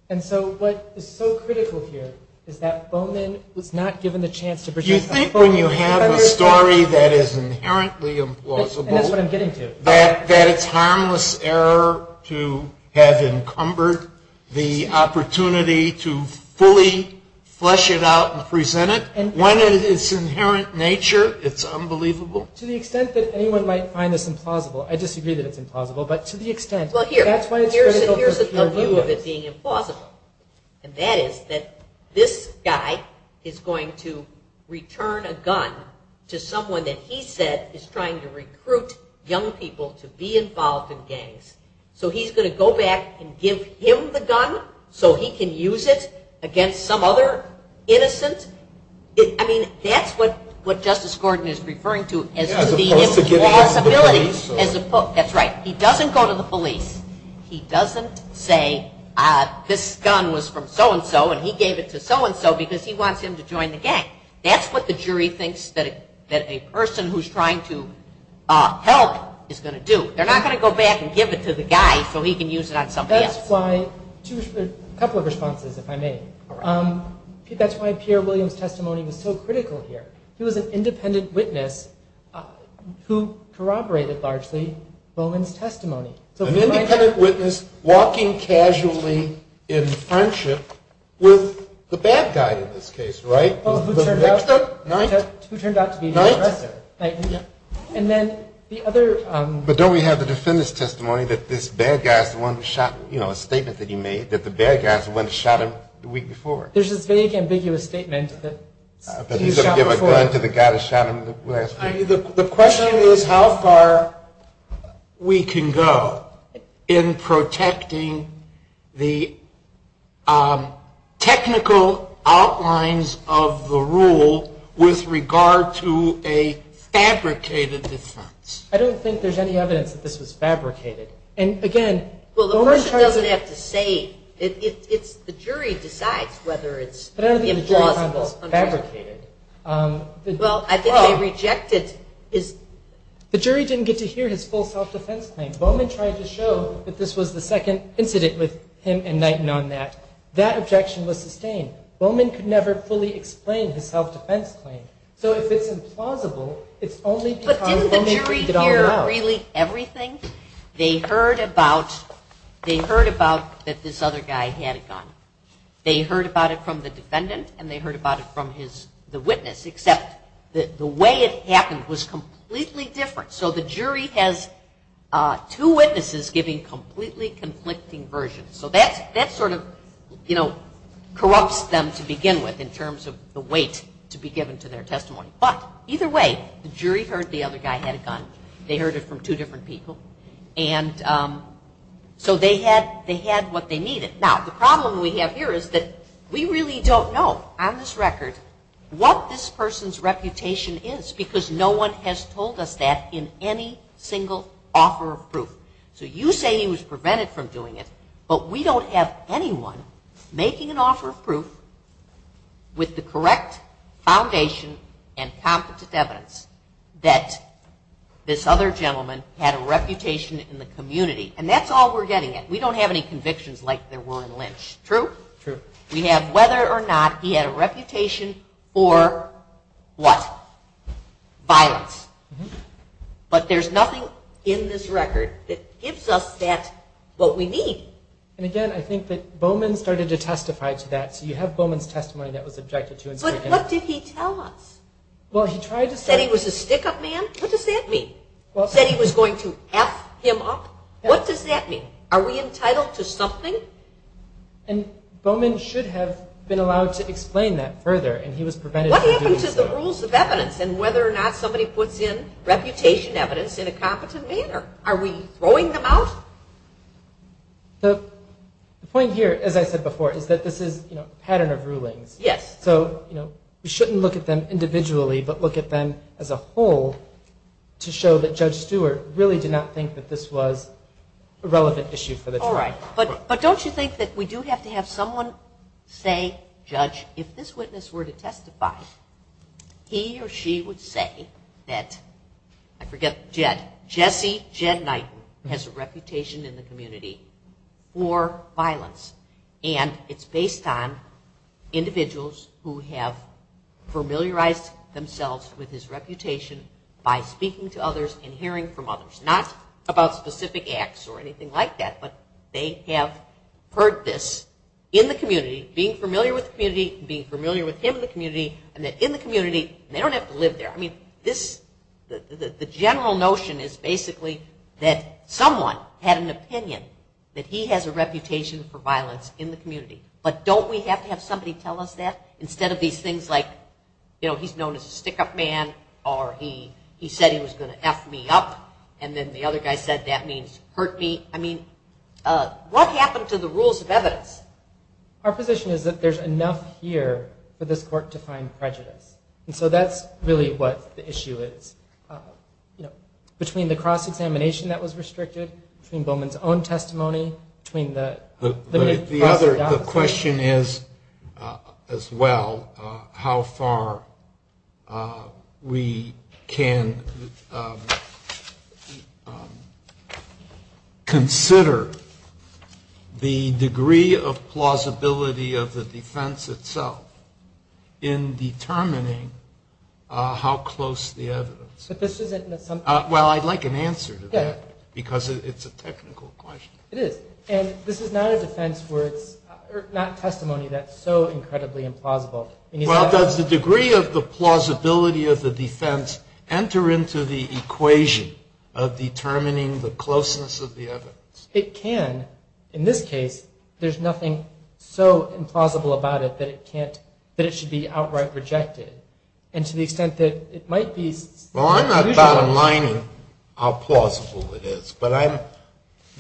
And so what is so critical here is that Bonin was not given the chance to present a story that is inherently implausible. That's what I'm getting to. That it's harmless error to have encumbered the opportunity to fully flesh it out and present it. One, it is inherent in nature. It's unbelievable. To the extent that anyone might find this implausible. I disagree that it's implausible, but to the extent. Well, here's the view of it being implausible. And that is that this guy is going to return a gun to someone that he says is trying to recruit young people to be involved in gangs. So he's going to go back and give him the gun so he can use it against some other innocent? I mean, that's what Justice Gordon is referring to as the impossibility. That's right. He doesn't go to the police. He doesn't say, this gun was from so-and-so and he gave it to so-and-so because he wants him to join the gang. That's what the jury thinks that a person who's trying to help is going to do. They're not going to go back and give it to the guy so he can use it on somebody else. That's why, a couple of responses, if I may. That's why Pierre William's testimony was so critical here. He was an independent witness who corroborated largely William's testimony. An independent witness walking casually in harm's way with the bad guy, in this case, right? Who turned out to be the arrestor. Right. And then the other... But don't we have the defendant's testimony that this bad guy is the one who shot, you know, a statement that he made, that the bad guy is the one who shot him the week before? There's a vague, ambiguous statement that he shot before. He gave a gun to the guy that shot him last week. I mean, the question is how far we can go in protecting the technical outlines of the rule with regard to a fabricated defense. I don't think there's any evidence that this was fabricated. And, again... Well, the question doesn't have to say. It's the jury decides whether it's implausible or fabricated. Well, I think they rejected his... The jury didn't get to hear his full self-defense claim. Bowman tried to show that this was the second incident with him and Knighton on that. That objection was sustained. Bowman could never fully explain his self-defense claim. So if it's implausible, it's only... But didn't the jury hear really everything? They heard about that this other guy had a gun. They heard about it from the defendant and they heard about it from the witness, except the way it happened was completely different. So the jury has two witnesses giving completely conflicting versions. So that sort of corrupts them to begin with in terms of the weight to be given to their testimony. But either way, the jury heard the other guy had a gun. They heard it from two different people. And so they had what they needed. Now, the problem we have here is that we really don't know, on this record, what this person's reputation is because no one has told us that in any single offer of proof. So you say he was prevented from doing it, but we don't have anyone making an offer of proof with the correct foundation and confidence evidence that this other gentleman had a reputation in the community. And that's all we're getting at. We don't have any convictions like there were in Lynch. True? True. We have whether or not he had a reputation for what? Violence. But there's nothing in this record that gives us back what we need. And again, I think that Bowman started to testify to that. So you have Bowman's testimony that was objected to. But what did he tell us? Well, he tried to say he was a stick-up man. What does that mean? He said he was going to F him up. What does that mean? Are we entitled to something? And Bowman should have been allowed to explain that further, and he was prevented from doing so. What happens to the rules of evidence and whether or not somebody puts in reputation evidence in a comprehensive manner? Are we throwing them out? So the point here, as I said before, is that this is a pattern of ruling. Yes. So we shouldn't look at them individually, but look at them as a whole to show that Judge Stewart really did not think that this was a relevant issue for the jury. All right. But don't you think that we do have to have someone say, Judge, if this witness were to testify, he or she would say that, I forget, Jesse, Jed Knight has a reputation in the community for violence. And it's based on individuals who have familiarized themselves with his reputation by speaking to others and hearing from others. Not about specific acts or anything like that, but they have heard this in the community, being familiar with the community, and being familiar with him in the community, and that in the community, they don't have to live there. I mean, the general notion is basically that someone had an opinion that he has a reputation for violence in the community. But don't we have to have somebody tell us that instead of these things like, you know, he's known as a stick-up man, or he said he was going to F me up, and then the other guy said that means hurt me. I mean, what happened to the rules of evidence? Our position is that there's enough here for this court to find prejudice. And so that's really what the issue is. Between the cross-examination that was restricted, between Bowman's own testimony, between that. The question is, as well, how far we can consider the degree of plausibility of the defense itself in determining how close the evidence. Well, I'd like an answer to that, because it's a technical question. It is. And this is not testimony that's so incredibly implausible. Well, does the degree of the plausibility of the defense enter into the equation of determining the closeness of the evidence? It can. In this case, there's nothing so implausible about it that it should be outright rejected. And to the extent that it might be... Well, I'm not bottom-lining how plausible it is, but I'm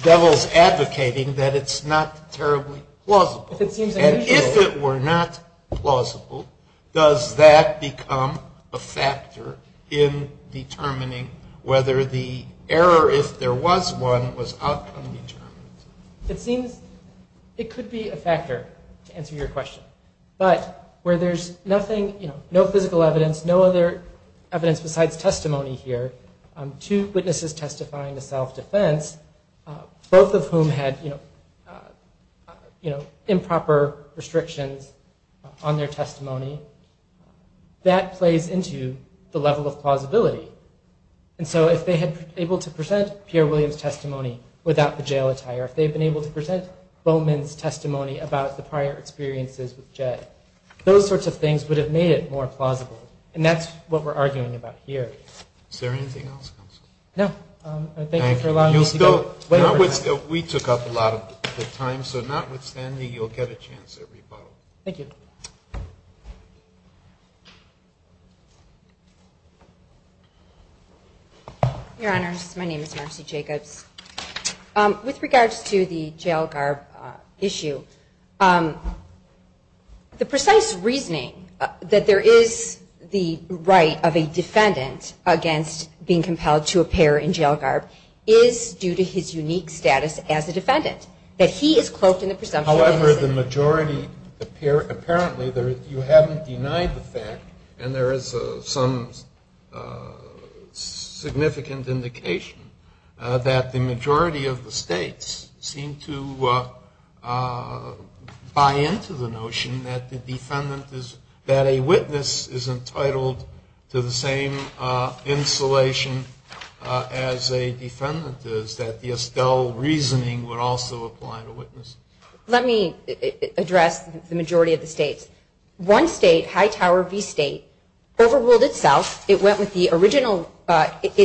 devil's advocating that it's not terribly plausible. And if it were not plausible, does that become a factor in determining whether the error, if there was one, was outcome-determined? It could be a factor, to answer your question. But where there's nothing, no physical evidence, no other evidence besides testimony here, two witnesses testifying to self-defense, both of whom had improper restrictions on their testimony, that plays into the level of plausibility. And so if they had been able to present Pierre Williams' testimony without the jail attire, if they had been able to present Bowman's testimony about the prior experiences with Jay, those sorts of things would have made it more plausible. And that's what we're arguing about here. Is there anything else? No. Thank you for allowing me to go. We took up a lot of the time, so notwithstanding, you'll get a chance every vote. Thank you. Your Honor, my name is Ashley Jacobs. With regards to the jail garb issue, the precise reasoning that there is the right of a defendant against being compelled to appear in jail garb is due to his unique status as a defendant, that he is quoting a presumption. However, the majority, apparently, you haven't denied the fact, and there is some significant indication that the majority of the states seem to buy into the notion that a witness is entitled to the same insulation as a defendant is, that the Estelle reasoning would also apply to witnesses. Let me address the majority of the states. One state, Hightower v. State, overruled itself. It went with the original, it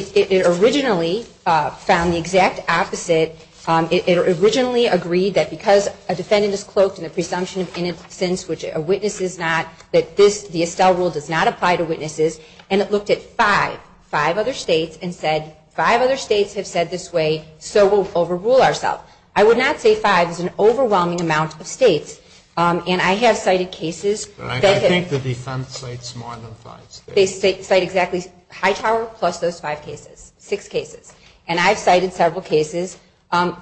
originally found the exact opposite. It originally agreed that because a defendant is close and the presumption is innocent, which a witness is not, that the Estelle rule does not apply to witnesses, and it looked at five, five other states, and said five other states have said this way, so we'll overrule ourselves. I would not say five. It's an overwhelming amount of states. And I have cited cases. I think the defense states more than five states. They cite exactly Hightower plus those five cases, six cases. And I've cited several cases.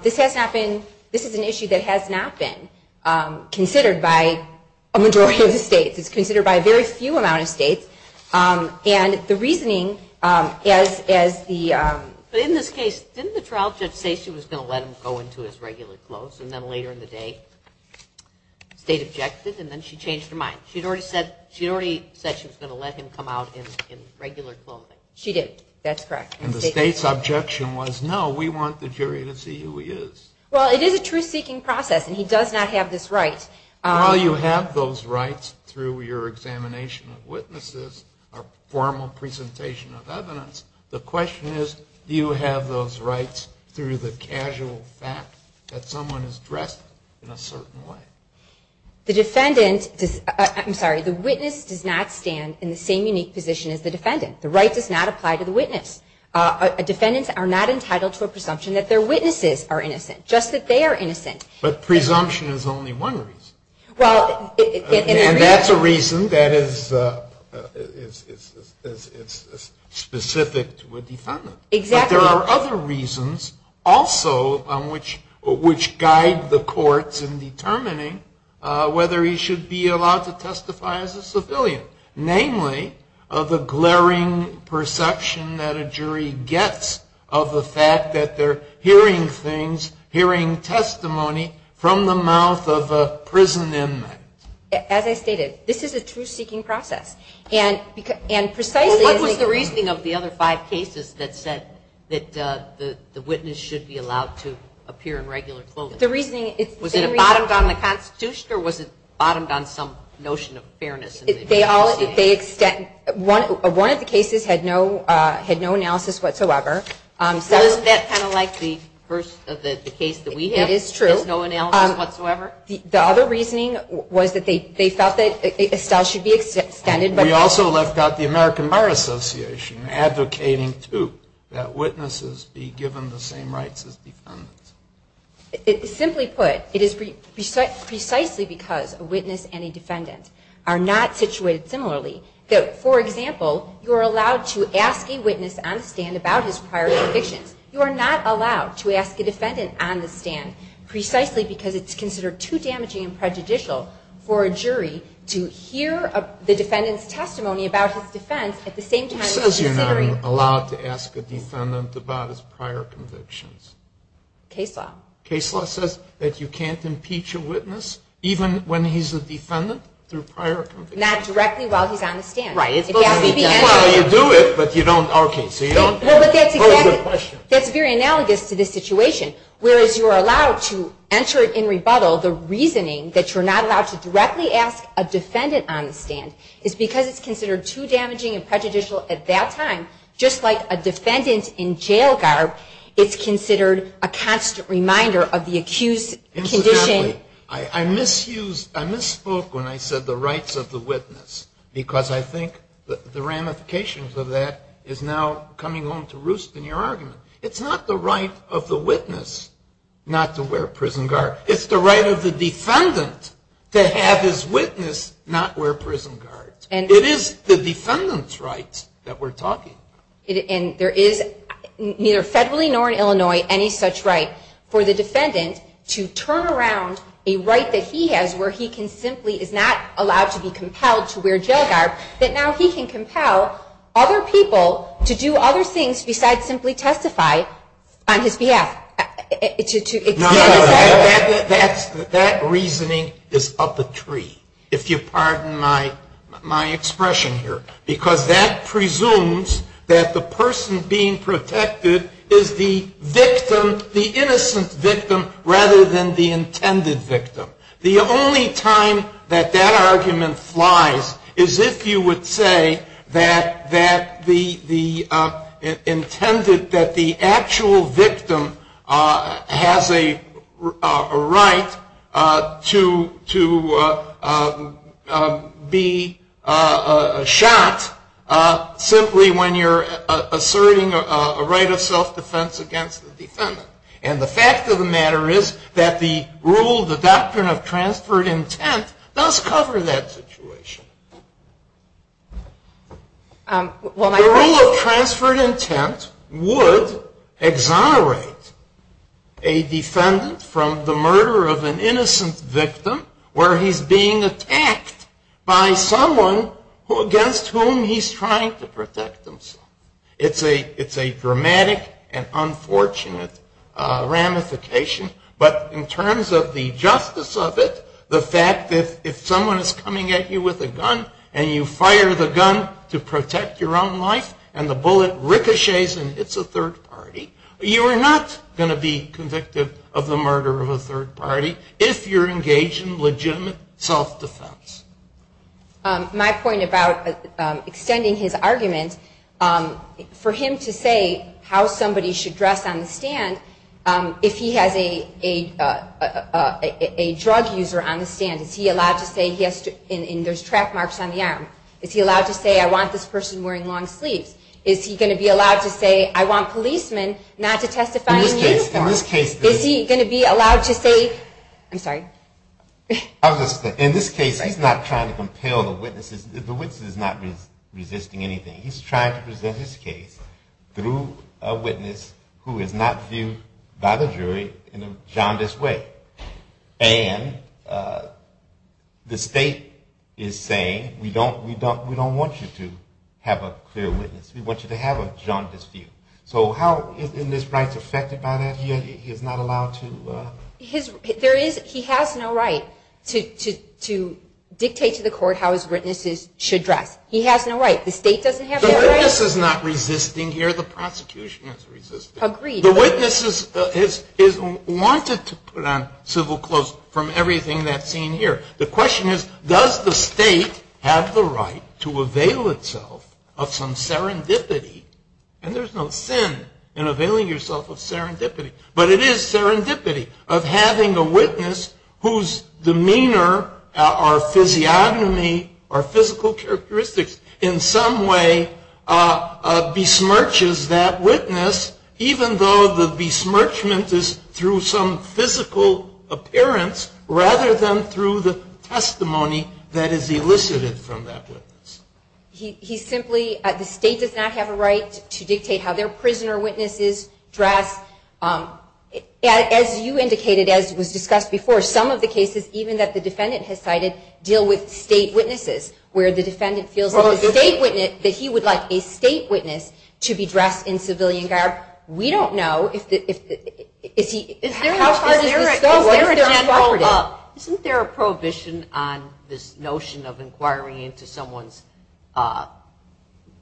This has not been, this is an issue that has not been considered by a majority of the states. It's considered by a very few amount of states. And the reasoning as the... But in this case, didn't the trial judge say she was going to let him go into his regular clothes, and then later in the day, the state objected, and then she changed her mind. She had already said she was going to let him come out in regular clothing. She did. That's correct. And the state's objection was, no, we want the jury to see who he is. Well, it is a truth-seeking process, and he does not have this right. While you have those rights through your examination of witnesses, a formal presentation of evidence, the question is, do you have those rights through the casual fact that someone is dressed in a certain way? The witness does not stand in the same unique position as the defendant. The right does not apply to the witness. Defendants are not entitled to a presumption that their witnesses are innocent, just that they are innocent. But presumption is only one reason. And that's a reason that is specific to a defendant. But there are other reasons also which guide the courts in determining whether he should be allowed to testify as a civilian, namely of a glaring perception that a jury gets of the fact that they're hearing things, hearing testimony from the mouth of a prison inmate. As I stated, this is a truth-seeking process. What was the reasoning of the other five cases that said that the witness should be allowed to appear in regular clothing? Was it bottomed on the Constitution, or was it bottomed on some notion of fairness? One of the cases had no analysis whatsoever. Isn't that kind of like the case that we had? It is true. No analysis whatsoever? The other reasoning was that they felt that Excel should be extended. We also left out the American Bar Association advocating, too, that witnesses be given the same rights as defendants. Simply put, it is precisely because a witness and a defendant are not situated similarly, that, for example, you are allowed to ask a witness on stand about his prior conviction. You are not allowed to ask a defendant on the stand precisely because it's considered too damaging and prejudicial for a jury to hear the defendant's testimony about his defense at the same time as he's hearing. It says you're not allowed to ask a defendant about his prior convictions. Case law. Case law says that you can't impeach a witness, even when he's a defendant, through prior convictions. Not directly while he's on the stand. Right. You do it, but you don't argue. That's exactly it. That's very analogous to this situation, whereas you're allowed to enter it in rebuttal, the reasoning that you're not allowed to directly ask a defendant on the stand. It's because it's considered too damaging and prejudicial at that time, just like a defendant in jail guard is considered a constant reminder of the accused's condition. I misused, I misspoke when I said the rights of the witness because I think the ramifications of that is now coming home to roost in your argument. It's not the right of the witness not to wear a prison guard. It's the right of the defendant to have his witness not wear prison guards. It is the defendant's right that we're talking about. And there is neither federally nor in Illinois any such right for the defendant to turn around a right that he has where he is not allowed to be compelled to wear jail guard, that now he can compel other people to do other things besides simply testify on his behalf. No, that reasoning is up a tree, if you pardon my expression here, because that presumes that the person being protected is the victim, the innocent victim, rather than the intended victim. The only time that that argument flies is if you would say that the intended, that the actual victim has a right to be shot simply when you're asserting a right of self-defense against the defendant. And the fact of the matter is that the rule, the doctrine of transferred intent does cover that situation. The rule of transferred intent would exonerate a defendant from the murder of an innocent victim where he's being attacked by someone against whom he's trying to protect himself. It's a dramatic and unfortunate ramification. But in terms of the justice of it, the fact that if someone is coming at you with a gun and you fire the gun to protect your own life and the bullet ricochets and hits a third party, you are not going to be convicted of the murder of a third party if you're engaged in legitimate self-defense. My point about extending his argument, for him to say how somebody should dress on the stand, if he has a drug user on the stand, is he allowed to say, and there's track marks on the arm, is he allowed to say, I want this person wearing long sleeves? Is he going to be allowed to say, I want policemen not to testify in this case? Is he going to be allowed to say, I'm sorry? In this case, he's not trying to compel the witnesses. The witness is not resisting anything. He's trying to present his case through a witness who is not viewed by the jury in a jaundiced way. And the state is saying, we don't want you to have a clear witness. We want you to have a jaundiced view. So how is this right affected by that? He's not allowed to? He has no right to dictate to the court how his witnesses should dress. He has no right. The state doesn't have to. The witness is not resisting here. The prosecution is resisting. Agreed. The witness is wanted to put on civil clothes from everything that's seen here. The question is, does the state have the right to avail itself of some serendipity? And there's no sin in availing yourself of serendipity. But it is serendipity of having a witness whose demeanor or physiognomy or physical characteristics in some way besmirches that witness, even though the besmirchment is through some physical appearance rather than through the testimony that is elicited from that witness. He simply – the state does not have a right to dictate how their prisoner witnesses dress. As you indicated, as was discussed before, some of the cases, even that the defendant has cited, deal with state witnesses, where the defendant feels that he would like a state witness to be dressed in civilian garb. We don't know if he – is there a prohibition on this notion of inquiring into someone's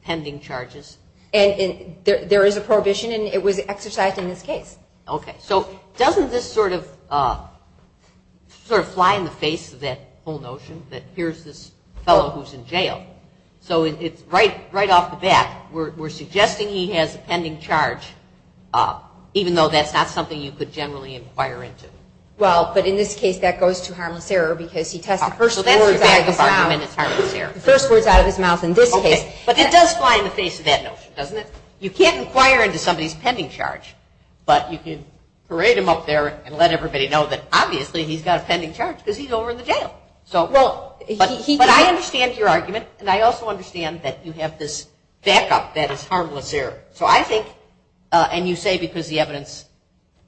pending charges? There is a prohibition, and it was exercised in this case. Okay, so doesn't this sort of fly in the face of that whole notion that here's this fellow who's in jail? So right off the bat, we're suggesting he has a pending charge, even though that's not something you could generally inquire into. Well, but in this case, that goes to harm and terror, because he has the first words out of his mouth in this case. But it does fly in the face of that notion, doesn't it? You can't inquire into somebody's pending charge, but you can parade him up there and let everybody know that, obviously, he's got a pending charge because he's over in the jail. But I understand your argument, and I also understand that you have this backup that is harmless there. So I think – and you say because the evidence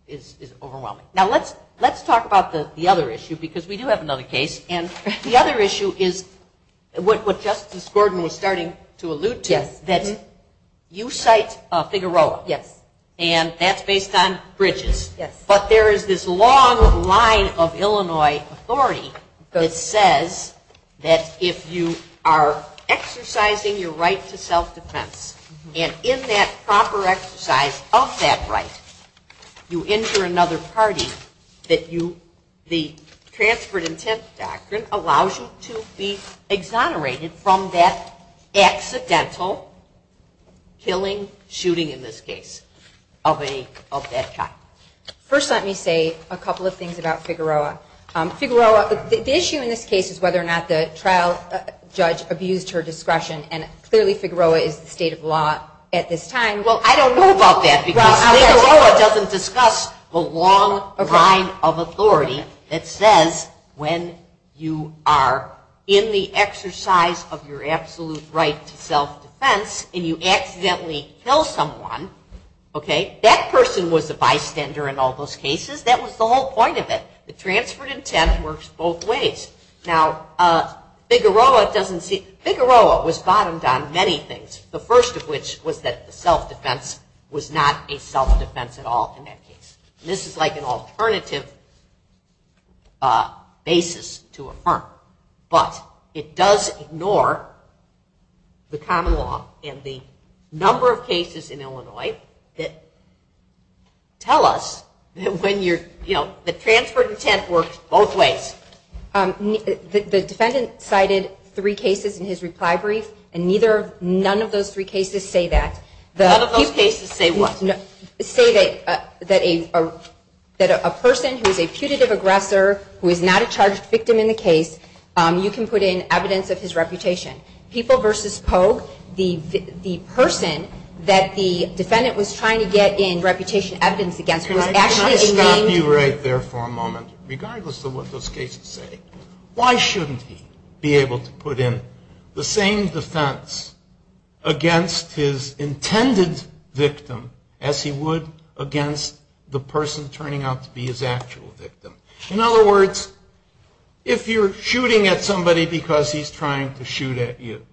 is overwhelming. Now, let's talk about the other issue, because we do have another case. And the other issue is what Justice Gordon was starting to allude to, that you cite Figueroa, and that's based on bridges. But there is this long line of Illinois authority that says that if you are exercising your right to self-defense, and in that proper exercise of that right, you injure another party, that the transferred intent doctrine allows you to be exonerated from that accidental killing, shooting in this case, of that child. First, let me say a couple of things about Figueroa. Figueroa – the issue in this case is whether or not the trial judge abused her discretion, and clearly Figueroa is the state of the law at this time. Well, I don't know about that, because Figueroa doesn't discuss the long line of authority that says when you are in the exercise of your absolute right to self-defense and you accidentally kill someone, that person was the bystander in all those cases. That was the whole point of it. The transferred intent works both ways. Now, Figueroa doesn't see – Figueroa was bottomed on many things, the first of which was that the self-defense was not a self-defense at all in that case. This is like an alternative basis to affirm, but it does ignore the common law and the number of cases in Illinois that tell us that the transferred intent works both ways. The defendant cited three cases in his reply brief, and neither – none of those three cases say that. None of those cases say what? They say that a person who is a putative aggressor, who is not a charged victim in the case, you can put in evidence of his reputation. People v. Polk, the person that the defendant was trying to get in reputation evidence against, was actually a named – Let's stop you right there for a moment. Regardless of what those cases say, why shouldn't he be able to put in the same defense against his intended victim as he would against the person turning out to be his actual victim? In other words, if you're shooting at somebody because he's trying to shoot at you,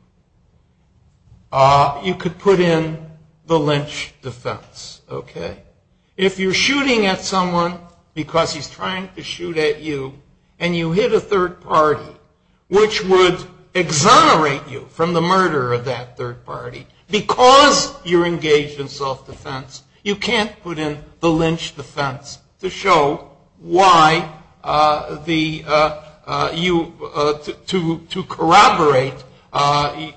you could put in the lynch defense. If you're shooting at someone because he's trying to shoot at you, and you hit a third party, which would exonerate you from the murder of that third party, because you're engaged in self-defense, you can't put in the lynch defense to corroborate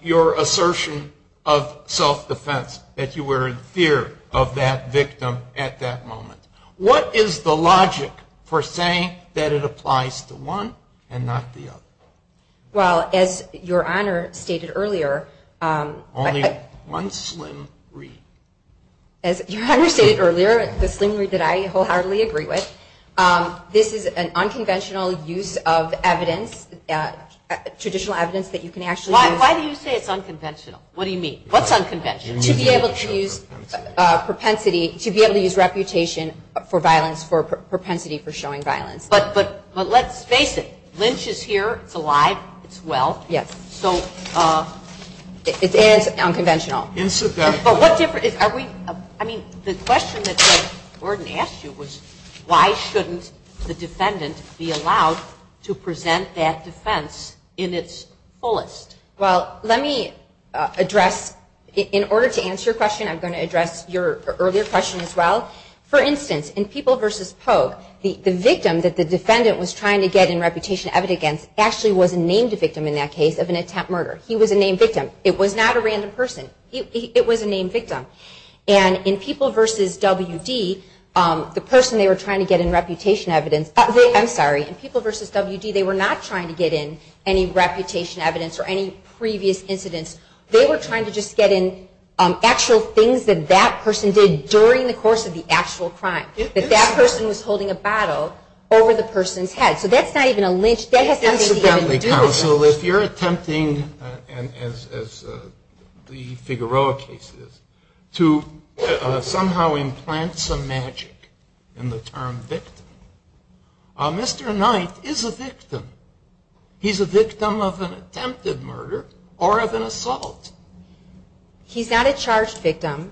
your assertion of self-defense, that you were in fear of that victim at that moment. What is the logic for saying that it applies to one and not the other? Well, as Your Honor stated earlier – Only one sling read. As Your Honor stated earlier, it's a sling read that I wholeheartedly agree with. This is an unconventional use of evidence, traditional evidence that you can actually – Why do you say it's unconventional? What do you mean? What's unconventional? To be able to use propensity, to be able to use reputation for violence, for propensity for showing violence. But let's face it, lynch is here, it's alive, it's well. Yes. So it is unconventional. But what difference – I mean, the question that Judge Gordon asked you was, why shouldn't the defendant be allowed to present that defense in its fullest? Well, let me address – in order to answer your question, I'm going to address your earlier question as well. For instance, in People v. Poe, the victim that the defendant was trying to get in reputation evidence against actually was named a victim in that case of an attempt murder. He was a named victim. It was not a random person. It was a named victim. And in People v. WD, the person they were trying to get in reputation evidence – I'm sorry, in People v. WD, they were not trying to get in any reputation evidence or any previous incidents. They were trying to just get in actual things that that person did during the course of the actual crime. Because that person was holding a bottle over the person's head. So that's not even a lynch. If you're attempting, as the Figueroa case is, to somehow implant some magic in the term victim, Mr. Knight is a victim. He's a victim of an attempted murder or of an assault. He's not a charged victim.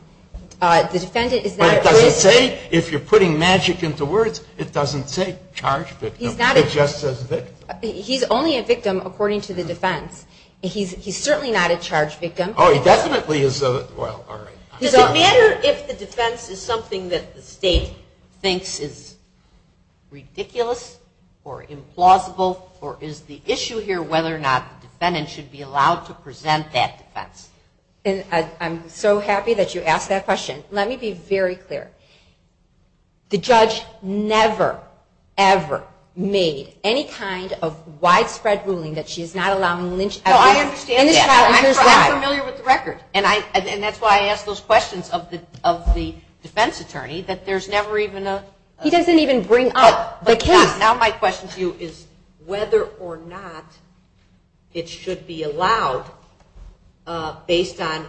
The defendant is not a charged victim. If you're putting magic into words, it doesn't say charged victim. It just says victim. He's only a victim according to the defense. He's certainly not a charged victim. Oh, he definitely is. So at the end of it, if the defense is something that the state thinks is ridiculous or implausible, or is the issue here whether or not the defendant should be allowed to present that defense? I'm so happy that you asked that question. Let me be very clear. The judge never, ever made any kind of widespread ruling that she's not allowed to lynch anyone. I understand that, but I'm familiar with the record. And that's why I ask those questions of the defense attorney, that there's never even a... He doesn't even bring up the case. Now my question to you is whether or not it should be allowed based on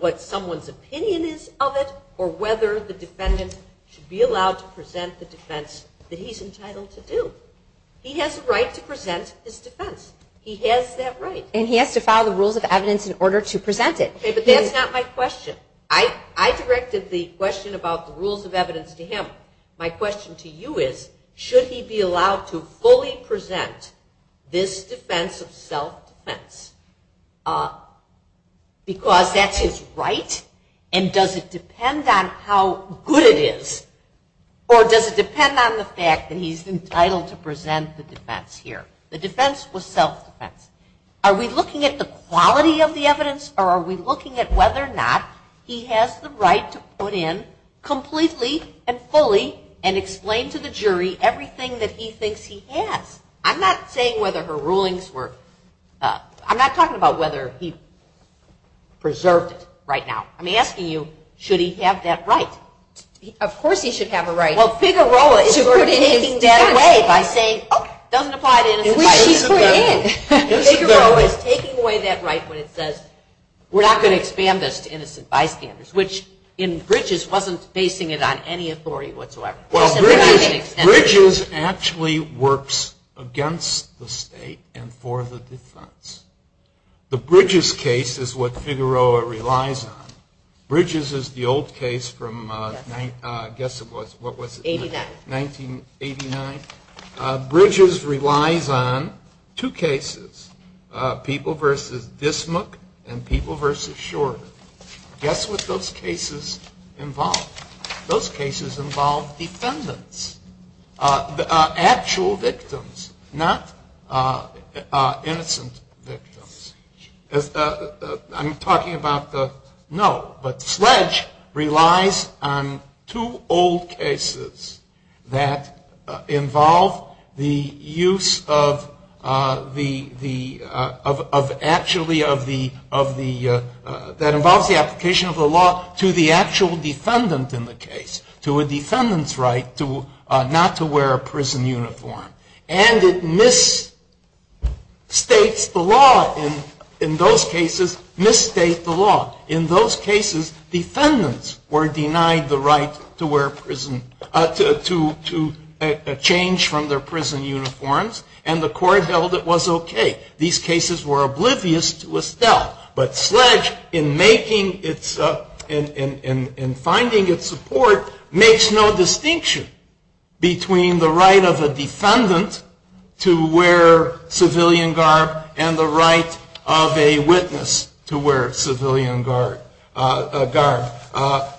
what someone's opinion is of it, or whether the defendant should be allowed to present the defense that he's entitled to do. He has the right to present his defense. He has that right. And he has to follow the rules of evidence in order to present it. Okay, but that's not my question. I directed the question about the rules of evidence to him. My question to you is, should he be allowed to fully present this defense of self-defense? Because that's his right, and does it depend on how good it is, or does it depend on the fact that he's entitled to present the defense here? The defense was self-defense. Are we looking at the quality of the evidence, or are we looking at whether or not he has the right to put in completely and fully and explain to the jury everything that he thinks he has? I'm not saying whether her rulings were... I'm not talking about whether he preserved it right now. I'm asking you, should he have that right? Of course he should have a right. Well, Figueroa is taking that away by saying it doesn't apply to anybody. Figueroa is taking away that right when it says, we're not going to expand this to innocent bystanders, which in Bridges wasn't basing it on any authority whatsoever. Bridges actually works against the state and for the defense. The Bridges case is what Figueroa relies on. Bridges is the old case from, I guess, what was it? 1989. 1989. Bridges relies on two cases, People v. Dismook and People v. Shorter. Guess what those cases involve? Those cases involve defendants, actual victims, not innocent victims. I'm talking about the... No, but Sledge relies on two old cases that involve the application of the law to the actual defendant in the case, to a defendant's right not to wear a prison uniform. And it misstates the law in those cases. In those cases, defendants were denied the right to change from their prison uniforms, and the court held it was okay. But Sledge, in finding its support, makes no distinction between the right of a defendant to wear civilian garb and the right of a witness to wear civilian garb.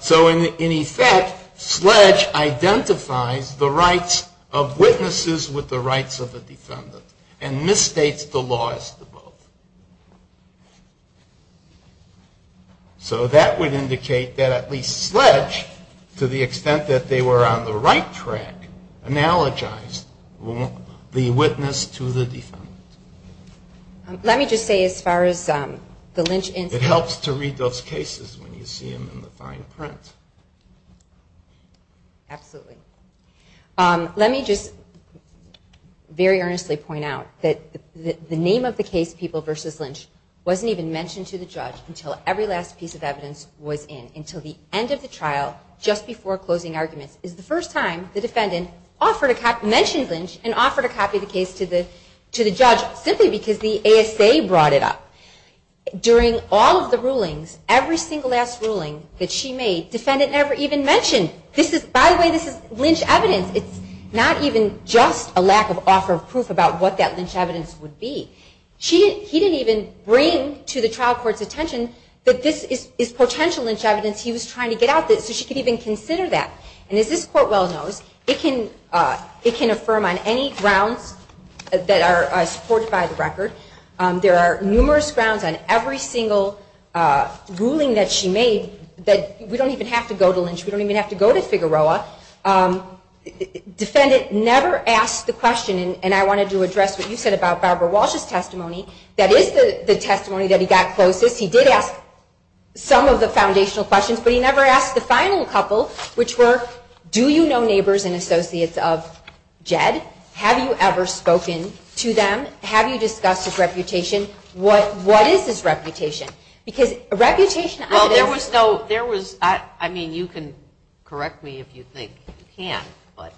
So in effect, Sledge identifies the rights of witnesses with the rights of the defendant and misstates the laws of the both. So that would indicate that at least Sledge, to the extent that they were on the right track, analogized the witness to the defendant. Let me just say, as far as the lynch incident... It helps to read those cases when you see them in the fine print. Absolutely. Let me just very earnestly point out that the name of the case, People v. Lynch, wasn't even mentioned to the judge until every last piece of evidence was in. Until the end of the trial, just before closing arguments, is the first time the defendant mentioned Lynch and offered a copy of the case to the judge, simply because the ASA brought it up. During all of the rulings, every single last ruling that she made, the defendant never even mentioned. By the way, this is lynch evidence. It's not even just a lack of author proof about what that lynch evidence would be. He didn't even bring to the trial court's attention that this is potential lynch evidence he was trying to get out, that she could even consider that. And as this court well knows, it can affirm on any grounds that are supported by the record. There are numerous grounds on every single ruling that she made that we don't even have to go to Lynch. We don't even have to go to Figueroa. Defendant never asked the question, and I wanted to address what you said about Barbara Walsh's testimony. That is the testimony that he got closest. He did ask some of the foundational questions, but he never asked the final couple, which were, do you know neighbors and associates of Jed? Have you ever spoken to them? Have you discussed his reputation? What is his reputation? Well, there was no—I mean, you can correct me if you think you can't, but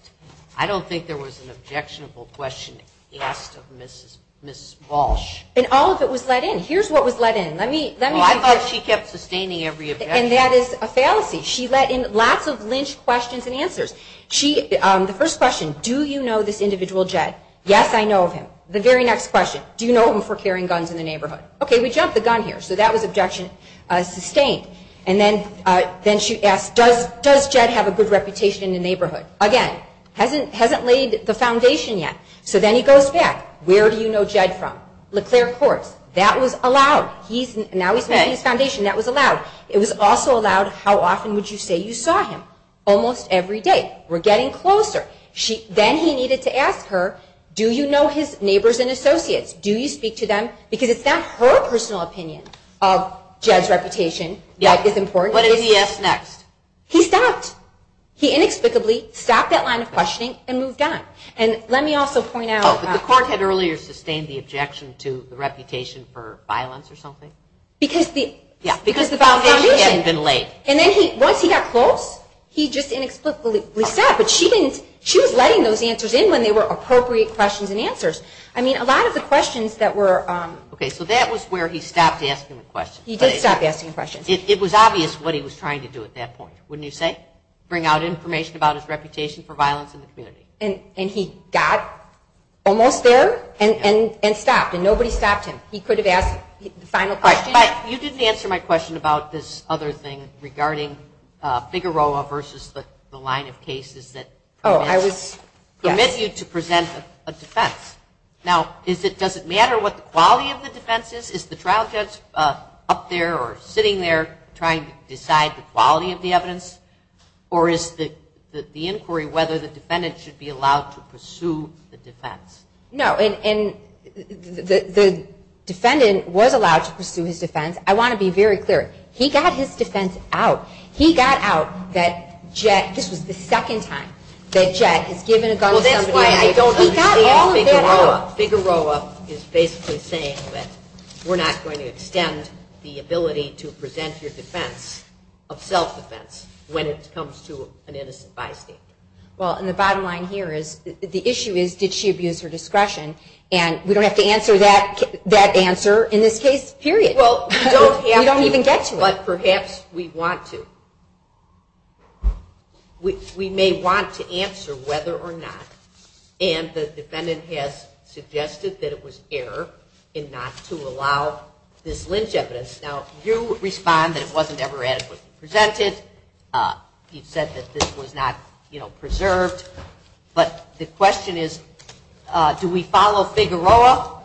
I don't think there was an objectionable question asked of Mrs. Walsh. And all of it was let in. Here's what was let in. Well, I thought she kept sustaining every objection. And that is a fallacy. She let in lots of lynch questions and answers. The first question, do you know this individual Jed? Yes, I know him. The very next question, do you know him for carrying guns in the neighborhood? Okay, we jumped the gun here. So that was objection sustained. And then she asked, does Jed have a good reputation in the neighborhood? Again, hasn't laid the foundation yet. So then he goes back. Where do you know Jed from? LeClaire Court. That was allowed. Now he's laying the foundation. That was allowed. It was also allowed, how often would you say you saw him? Almost every day. We're getting closer. Then he needed to ask her, do you know his neighbors and associates? Do you speak to them? Because it's not her personal opinion of Jed's reputation. What did he ask next? He stopped. He inexplicably stopped that line of questioning and moved on. And let me also point out. The court had earlier sustained the objection to the reputation for violence or something? Because the foundation had been laid. Once he had pulled, he just inexplicably stopped. But she was letting those answers in when they were appropriate questions and answers. I mean, a lot of the questions that were. Okay, so that was where he stopped asking the questions. He did stop asking the questions. It was obvious what he was trying to do at that point, wouldn't you say? Bring out information about his reputation for violence in the community. And he got almost there and stopped. And nobody stopped him. He could have asked the final question. You didn't answer my question about this other thing regarding Figueroa versus the line of cases that. Oh, I was. Permit you to present a defense. Now, does it matter what the quality of the defense is? Is the trial judge up there or sitting there trying to decide the quality of the evidence? Or is the inquiry whether the defendant should be allowed to pursue the defense? No, and the defendant was allowed to pursue his defense. I want to be very clear. He got his defense out. He got out that Jack, this was the second time that Jack was given a gun. Well, that's why I don't agree with Figueroa. Figueroa is basically saying that we're not going to extend the ability to present your defense of self-defense when it comes to an innocent bystander. Well, and the bottom line here is, the issue is, did she abuse her discretion? And we don't have to answer that answer in this case, period. We don't even get to it. But perhaps we want to. We may want to answer whether or not. And the defendant has suggested that it was error in not to allow this lynch evidence. Now, you respond that it wasn't ever adequately presented. You said that this was not preserved. But the question is, do we follow Figueroa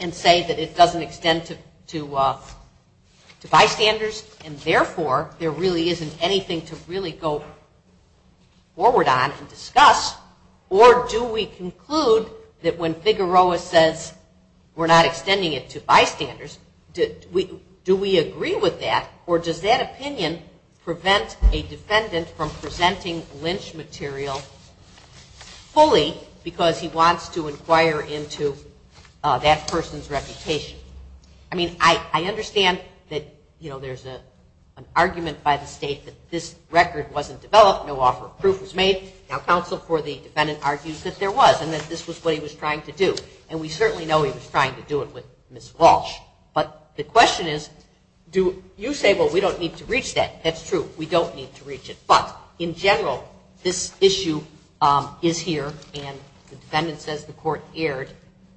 and say that it doesn't extend to bystanders, and therefore there really isn't anything to really go forward on to discuss? Or do we conclude that when Figueroa says we're not extending it to bystanders, do we agree with that? Or does that opinion prevent a defendant from presenting lynch material fully, because he wants to inquire into that person's reputation? I mean, I understand that, you know, there's an argument by the state that this record wasn't developed. No offer of proof was made. Now, counsel for the defendant argues that there was, and that this was what he was trying to do. And we certainly know he was trying to do it with Ms. Walsh. But the question is, you say, well, we don't need to reach that. That's true. We don't need to reach it. But in general, this issue is here, and the defendant says the court erred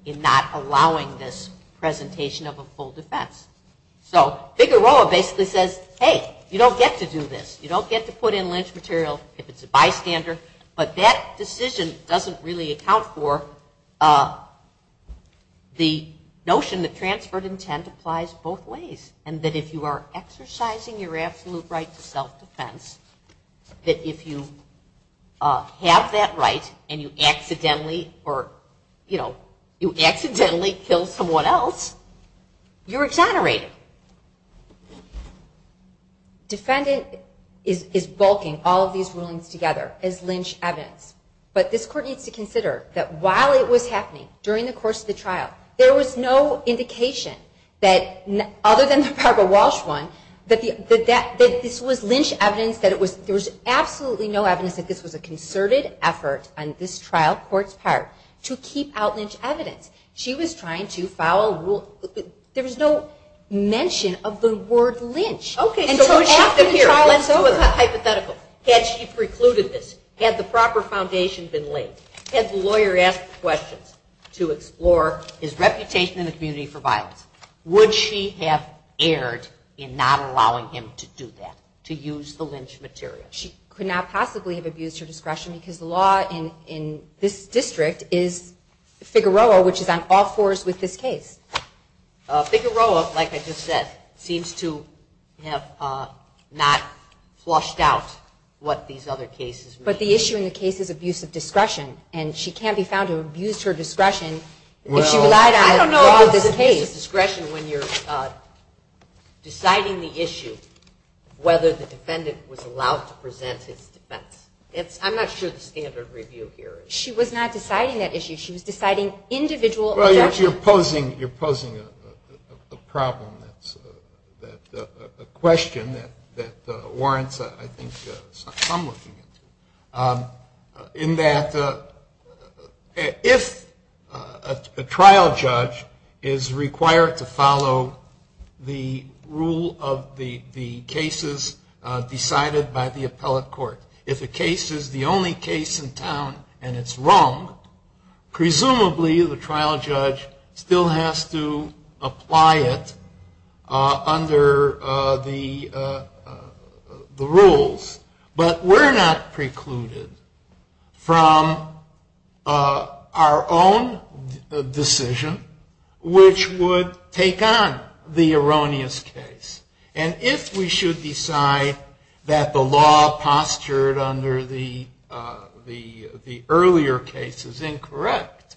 in not allowing this presentation of a full defense. So Figueroa basically says, hey, you don't get to do this. You don't get to put in lynch material if it's a bystander. But that decision doesn't really account for the notion that transferred intent applies both ways, and that if you are exercising your absolute right to self-defense, that if you have that right, and you accidentally or, you know, you accidentally kill someone else, you're exonerated. Defendant is bulking all of these rulings together as lynch evidence. But this court needs to consider that while it was happening during the course of the trial, there was no indication that, other than the Barbara Walsh one, that this was lynch evidence, that it was, there was absolutely no evidence that this was a concerted effort on this trial court's part to keep out lynch evidence. She was trying to follow rules. There was no mention of the word lynch. Okay. And so after the trial was over. It was hypothetical. Had she precluded this? Had the proper foundations been laid? Had the lawyer asked questions to explore his reputation in the community for violence? Would she have erred in not allowing him to do that, to use the lynch material? She could not possibly have abused her discretion, because the law in this district is, Figueroa, which is on all fours with this case. Figueroa, like I just said, seems to have not flushed out what these other cases were. But the issue in the case is abuse of discretion. And she can't be found to have abused her discretion. Well, I don't know how to use discretion when you're deciding the issue, whether the defendant was allowed to present his defense. I'm not sure the standard review here is. She was not deciding that issue. She was deciding individual events. You're posing a problem, a question that warrants, I think, some looking into. In that, if a trial judge is required to follow the rule of the cases decided by the appellate court, if a case is the only case in town and it's wrong, presumably the trial judge still has to apply it under the rules. But we're not precluded from our own decision, which would take on the erroneous case. And if we should decide that the law postured under the earlier case is incorrect,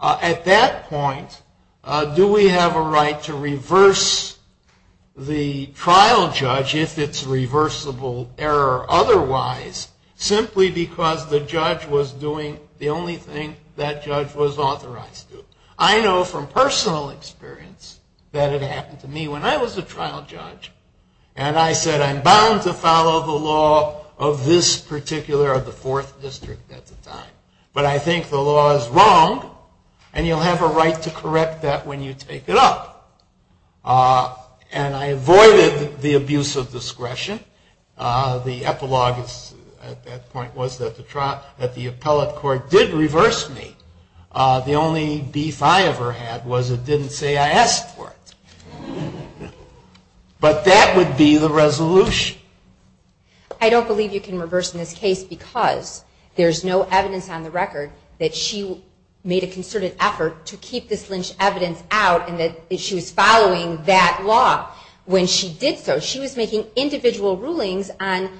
at that point, do we have a right to reverse the trial judge if it's reversible error otherwise, simply because the judge was doing the only thing that judge was authorized to do? I know from personal experience that it happened to me when I was a trial judge. And I said, I'm bound to follow the law of this particular or the fourth district at the time. But I think the law is wrong, and you'll have a right to correct that when you take it up. And I avoided the abuse of discretion. The epilogue at that point was that the appellate court did reverse me. The only beef I ever had was it didn't say I asked for it. But that would be the resolution. I don't believe you can reverse this case because there's no evidence on the record that she made a concerted effort to keep this lynched evidence out and that she was following that law when she did so. But she was making individual rulings on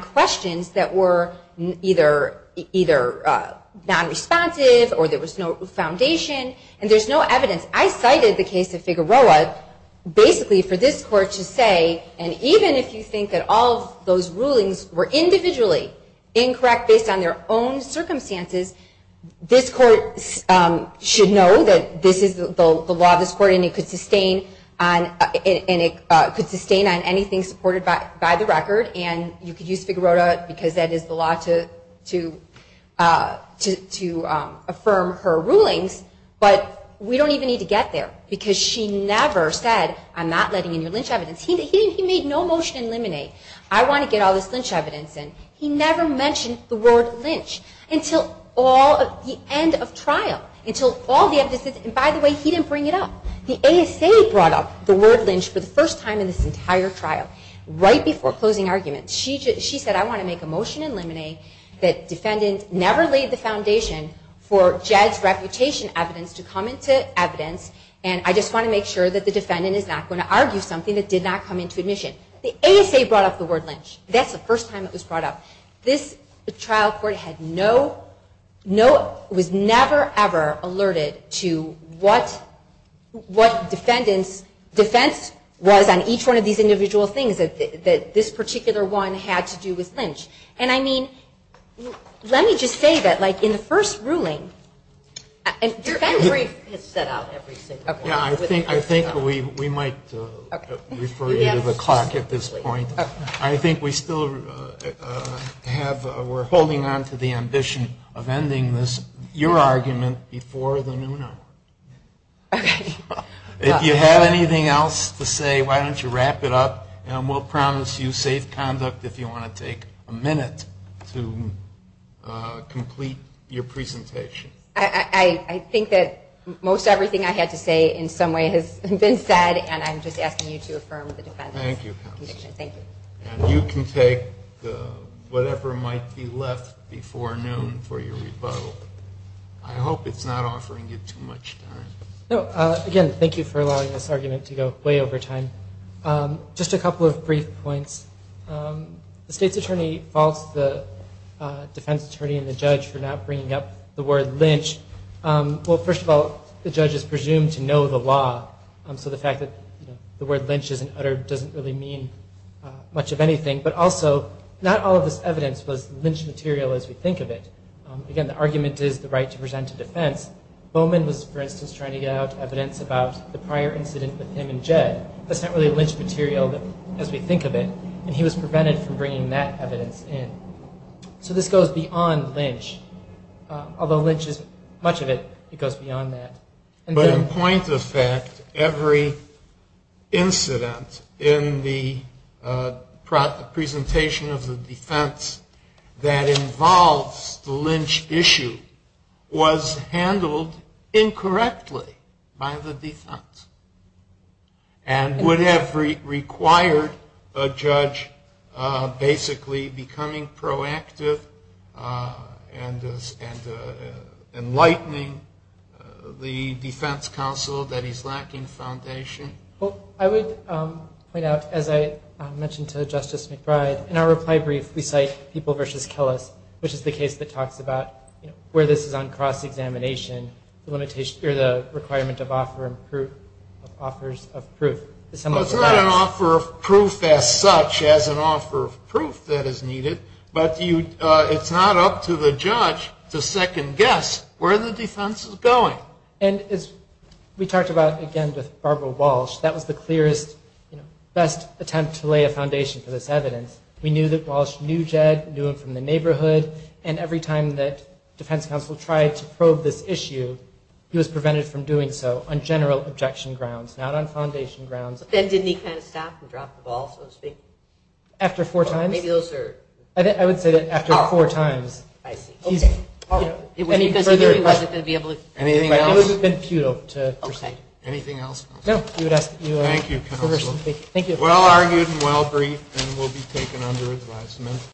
questions that were either non-responsive or there was no foundation, and there's no evidence. I cited the case of Figueroa basically for this court to say, and even if you think that all those rulings were individually incorrect based on their own circumstances, this court should know that this is the law of this court, and it could sustain on anything supported by the record, and you could use Figueroa because that is the law to affirm her rulings. But we don't even need to get there because she never said, I'm not letting in the lynched evidence. He made no motion to eliminate. I want to get all this lynched evidence in. He never mentions the word lynch until the end of trial, until all the evidence is, and by the way, he didn't bring it up. The ASA brought up the word lynch for the first time in this entire trial, right before closing arguments. She said, I want to make a motion to eliminate that defendants never laid the foundation for judge reputation evidence to come into evidence, and I just want to make sure that the defendant is not going to argue something that did not come into admission. The ASA brought up the word lynch. That's the first time it was brought up. This trial court had no, was never, ever alerted to what the defendant's defense was on each one of these individual things that this particular one had to do with lynch. And I mean, let me just say that like in the first ruling, I think we might refer you to the clerk at this point. I think we still have, we're holding on to the ambition of ending this, your argument, before the noon hour. If you have anything else to say, why don't you wrap it up, and we'll promise you safe conduct if you want to take a minute to complete your presentation. I think that most everything I had to say in some way has been said, and I'm just asking you to affirm the defendant's conviction. Thank you. Thank you. And you can take whatever might be left before noon for your rebuttal. I hope it's not offering you too much. Again, thank you for allowing this argument to go way over time. Just a couple of brief points. The state's attorney faults the defense attorney and the judge for not bringing up the word lynch. Well, first of all, the judge is presumed to know the law, so the fact that the word lynch is uttered doesn't really mean much of anything. But also, not all of this evidence was lynch material as you think of it. Again, the argument is the right to present to defense. Bowman was, for instance, trying to get out evidence about the prior incident with him and Jay. That's not really lynch material as we think of it. And he was prevented from bringing that evidence in. So this goes beyond lynch, although lynch is much of it. It goes beyond that. But in point of fact, every incident in the presentation of the defense that involves the lynch issue was handled incorrectly by the defense. And would have required a judge basically becoming proactive and enlightening the defense counsel that he's lacking foundation. Well, I would point out, as I mentioned to Justice McBride, that in our reply brief, we cite People v. Killis, which is the case that talks about where this is on cross-examination, the requirement of offer and proof, offers of proof. It's not an offer of proof as such as an offer of proof that is needed, but it's not up to the judge to second guess where the defense is going. And as we talked about, again, with Barbara Walsh, that was the clearest, best attempt to lay a foundation for this evidence. We knew that Walsh knew Jeg, knew him from the neighborhood, and every time that defense counsel tried to probe this issue, he was prevented from doing so on general objection grounds, not on foundation grounds. But then didn't he kind of stop and drop the ball, so to speak? After four times? Maybe those are... I would say after four times. I see. Okay. Any further questions? Anything else? That would have been futile to present. Anything else? No. Thank you. Well argued and well briefed and will be taken under advisement.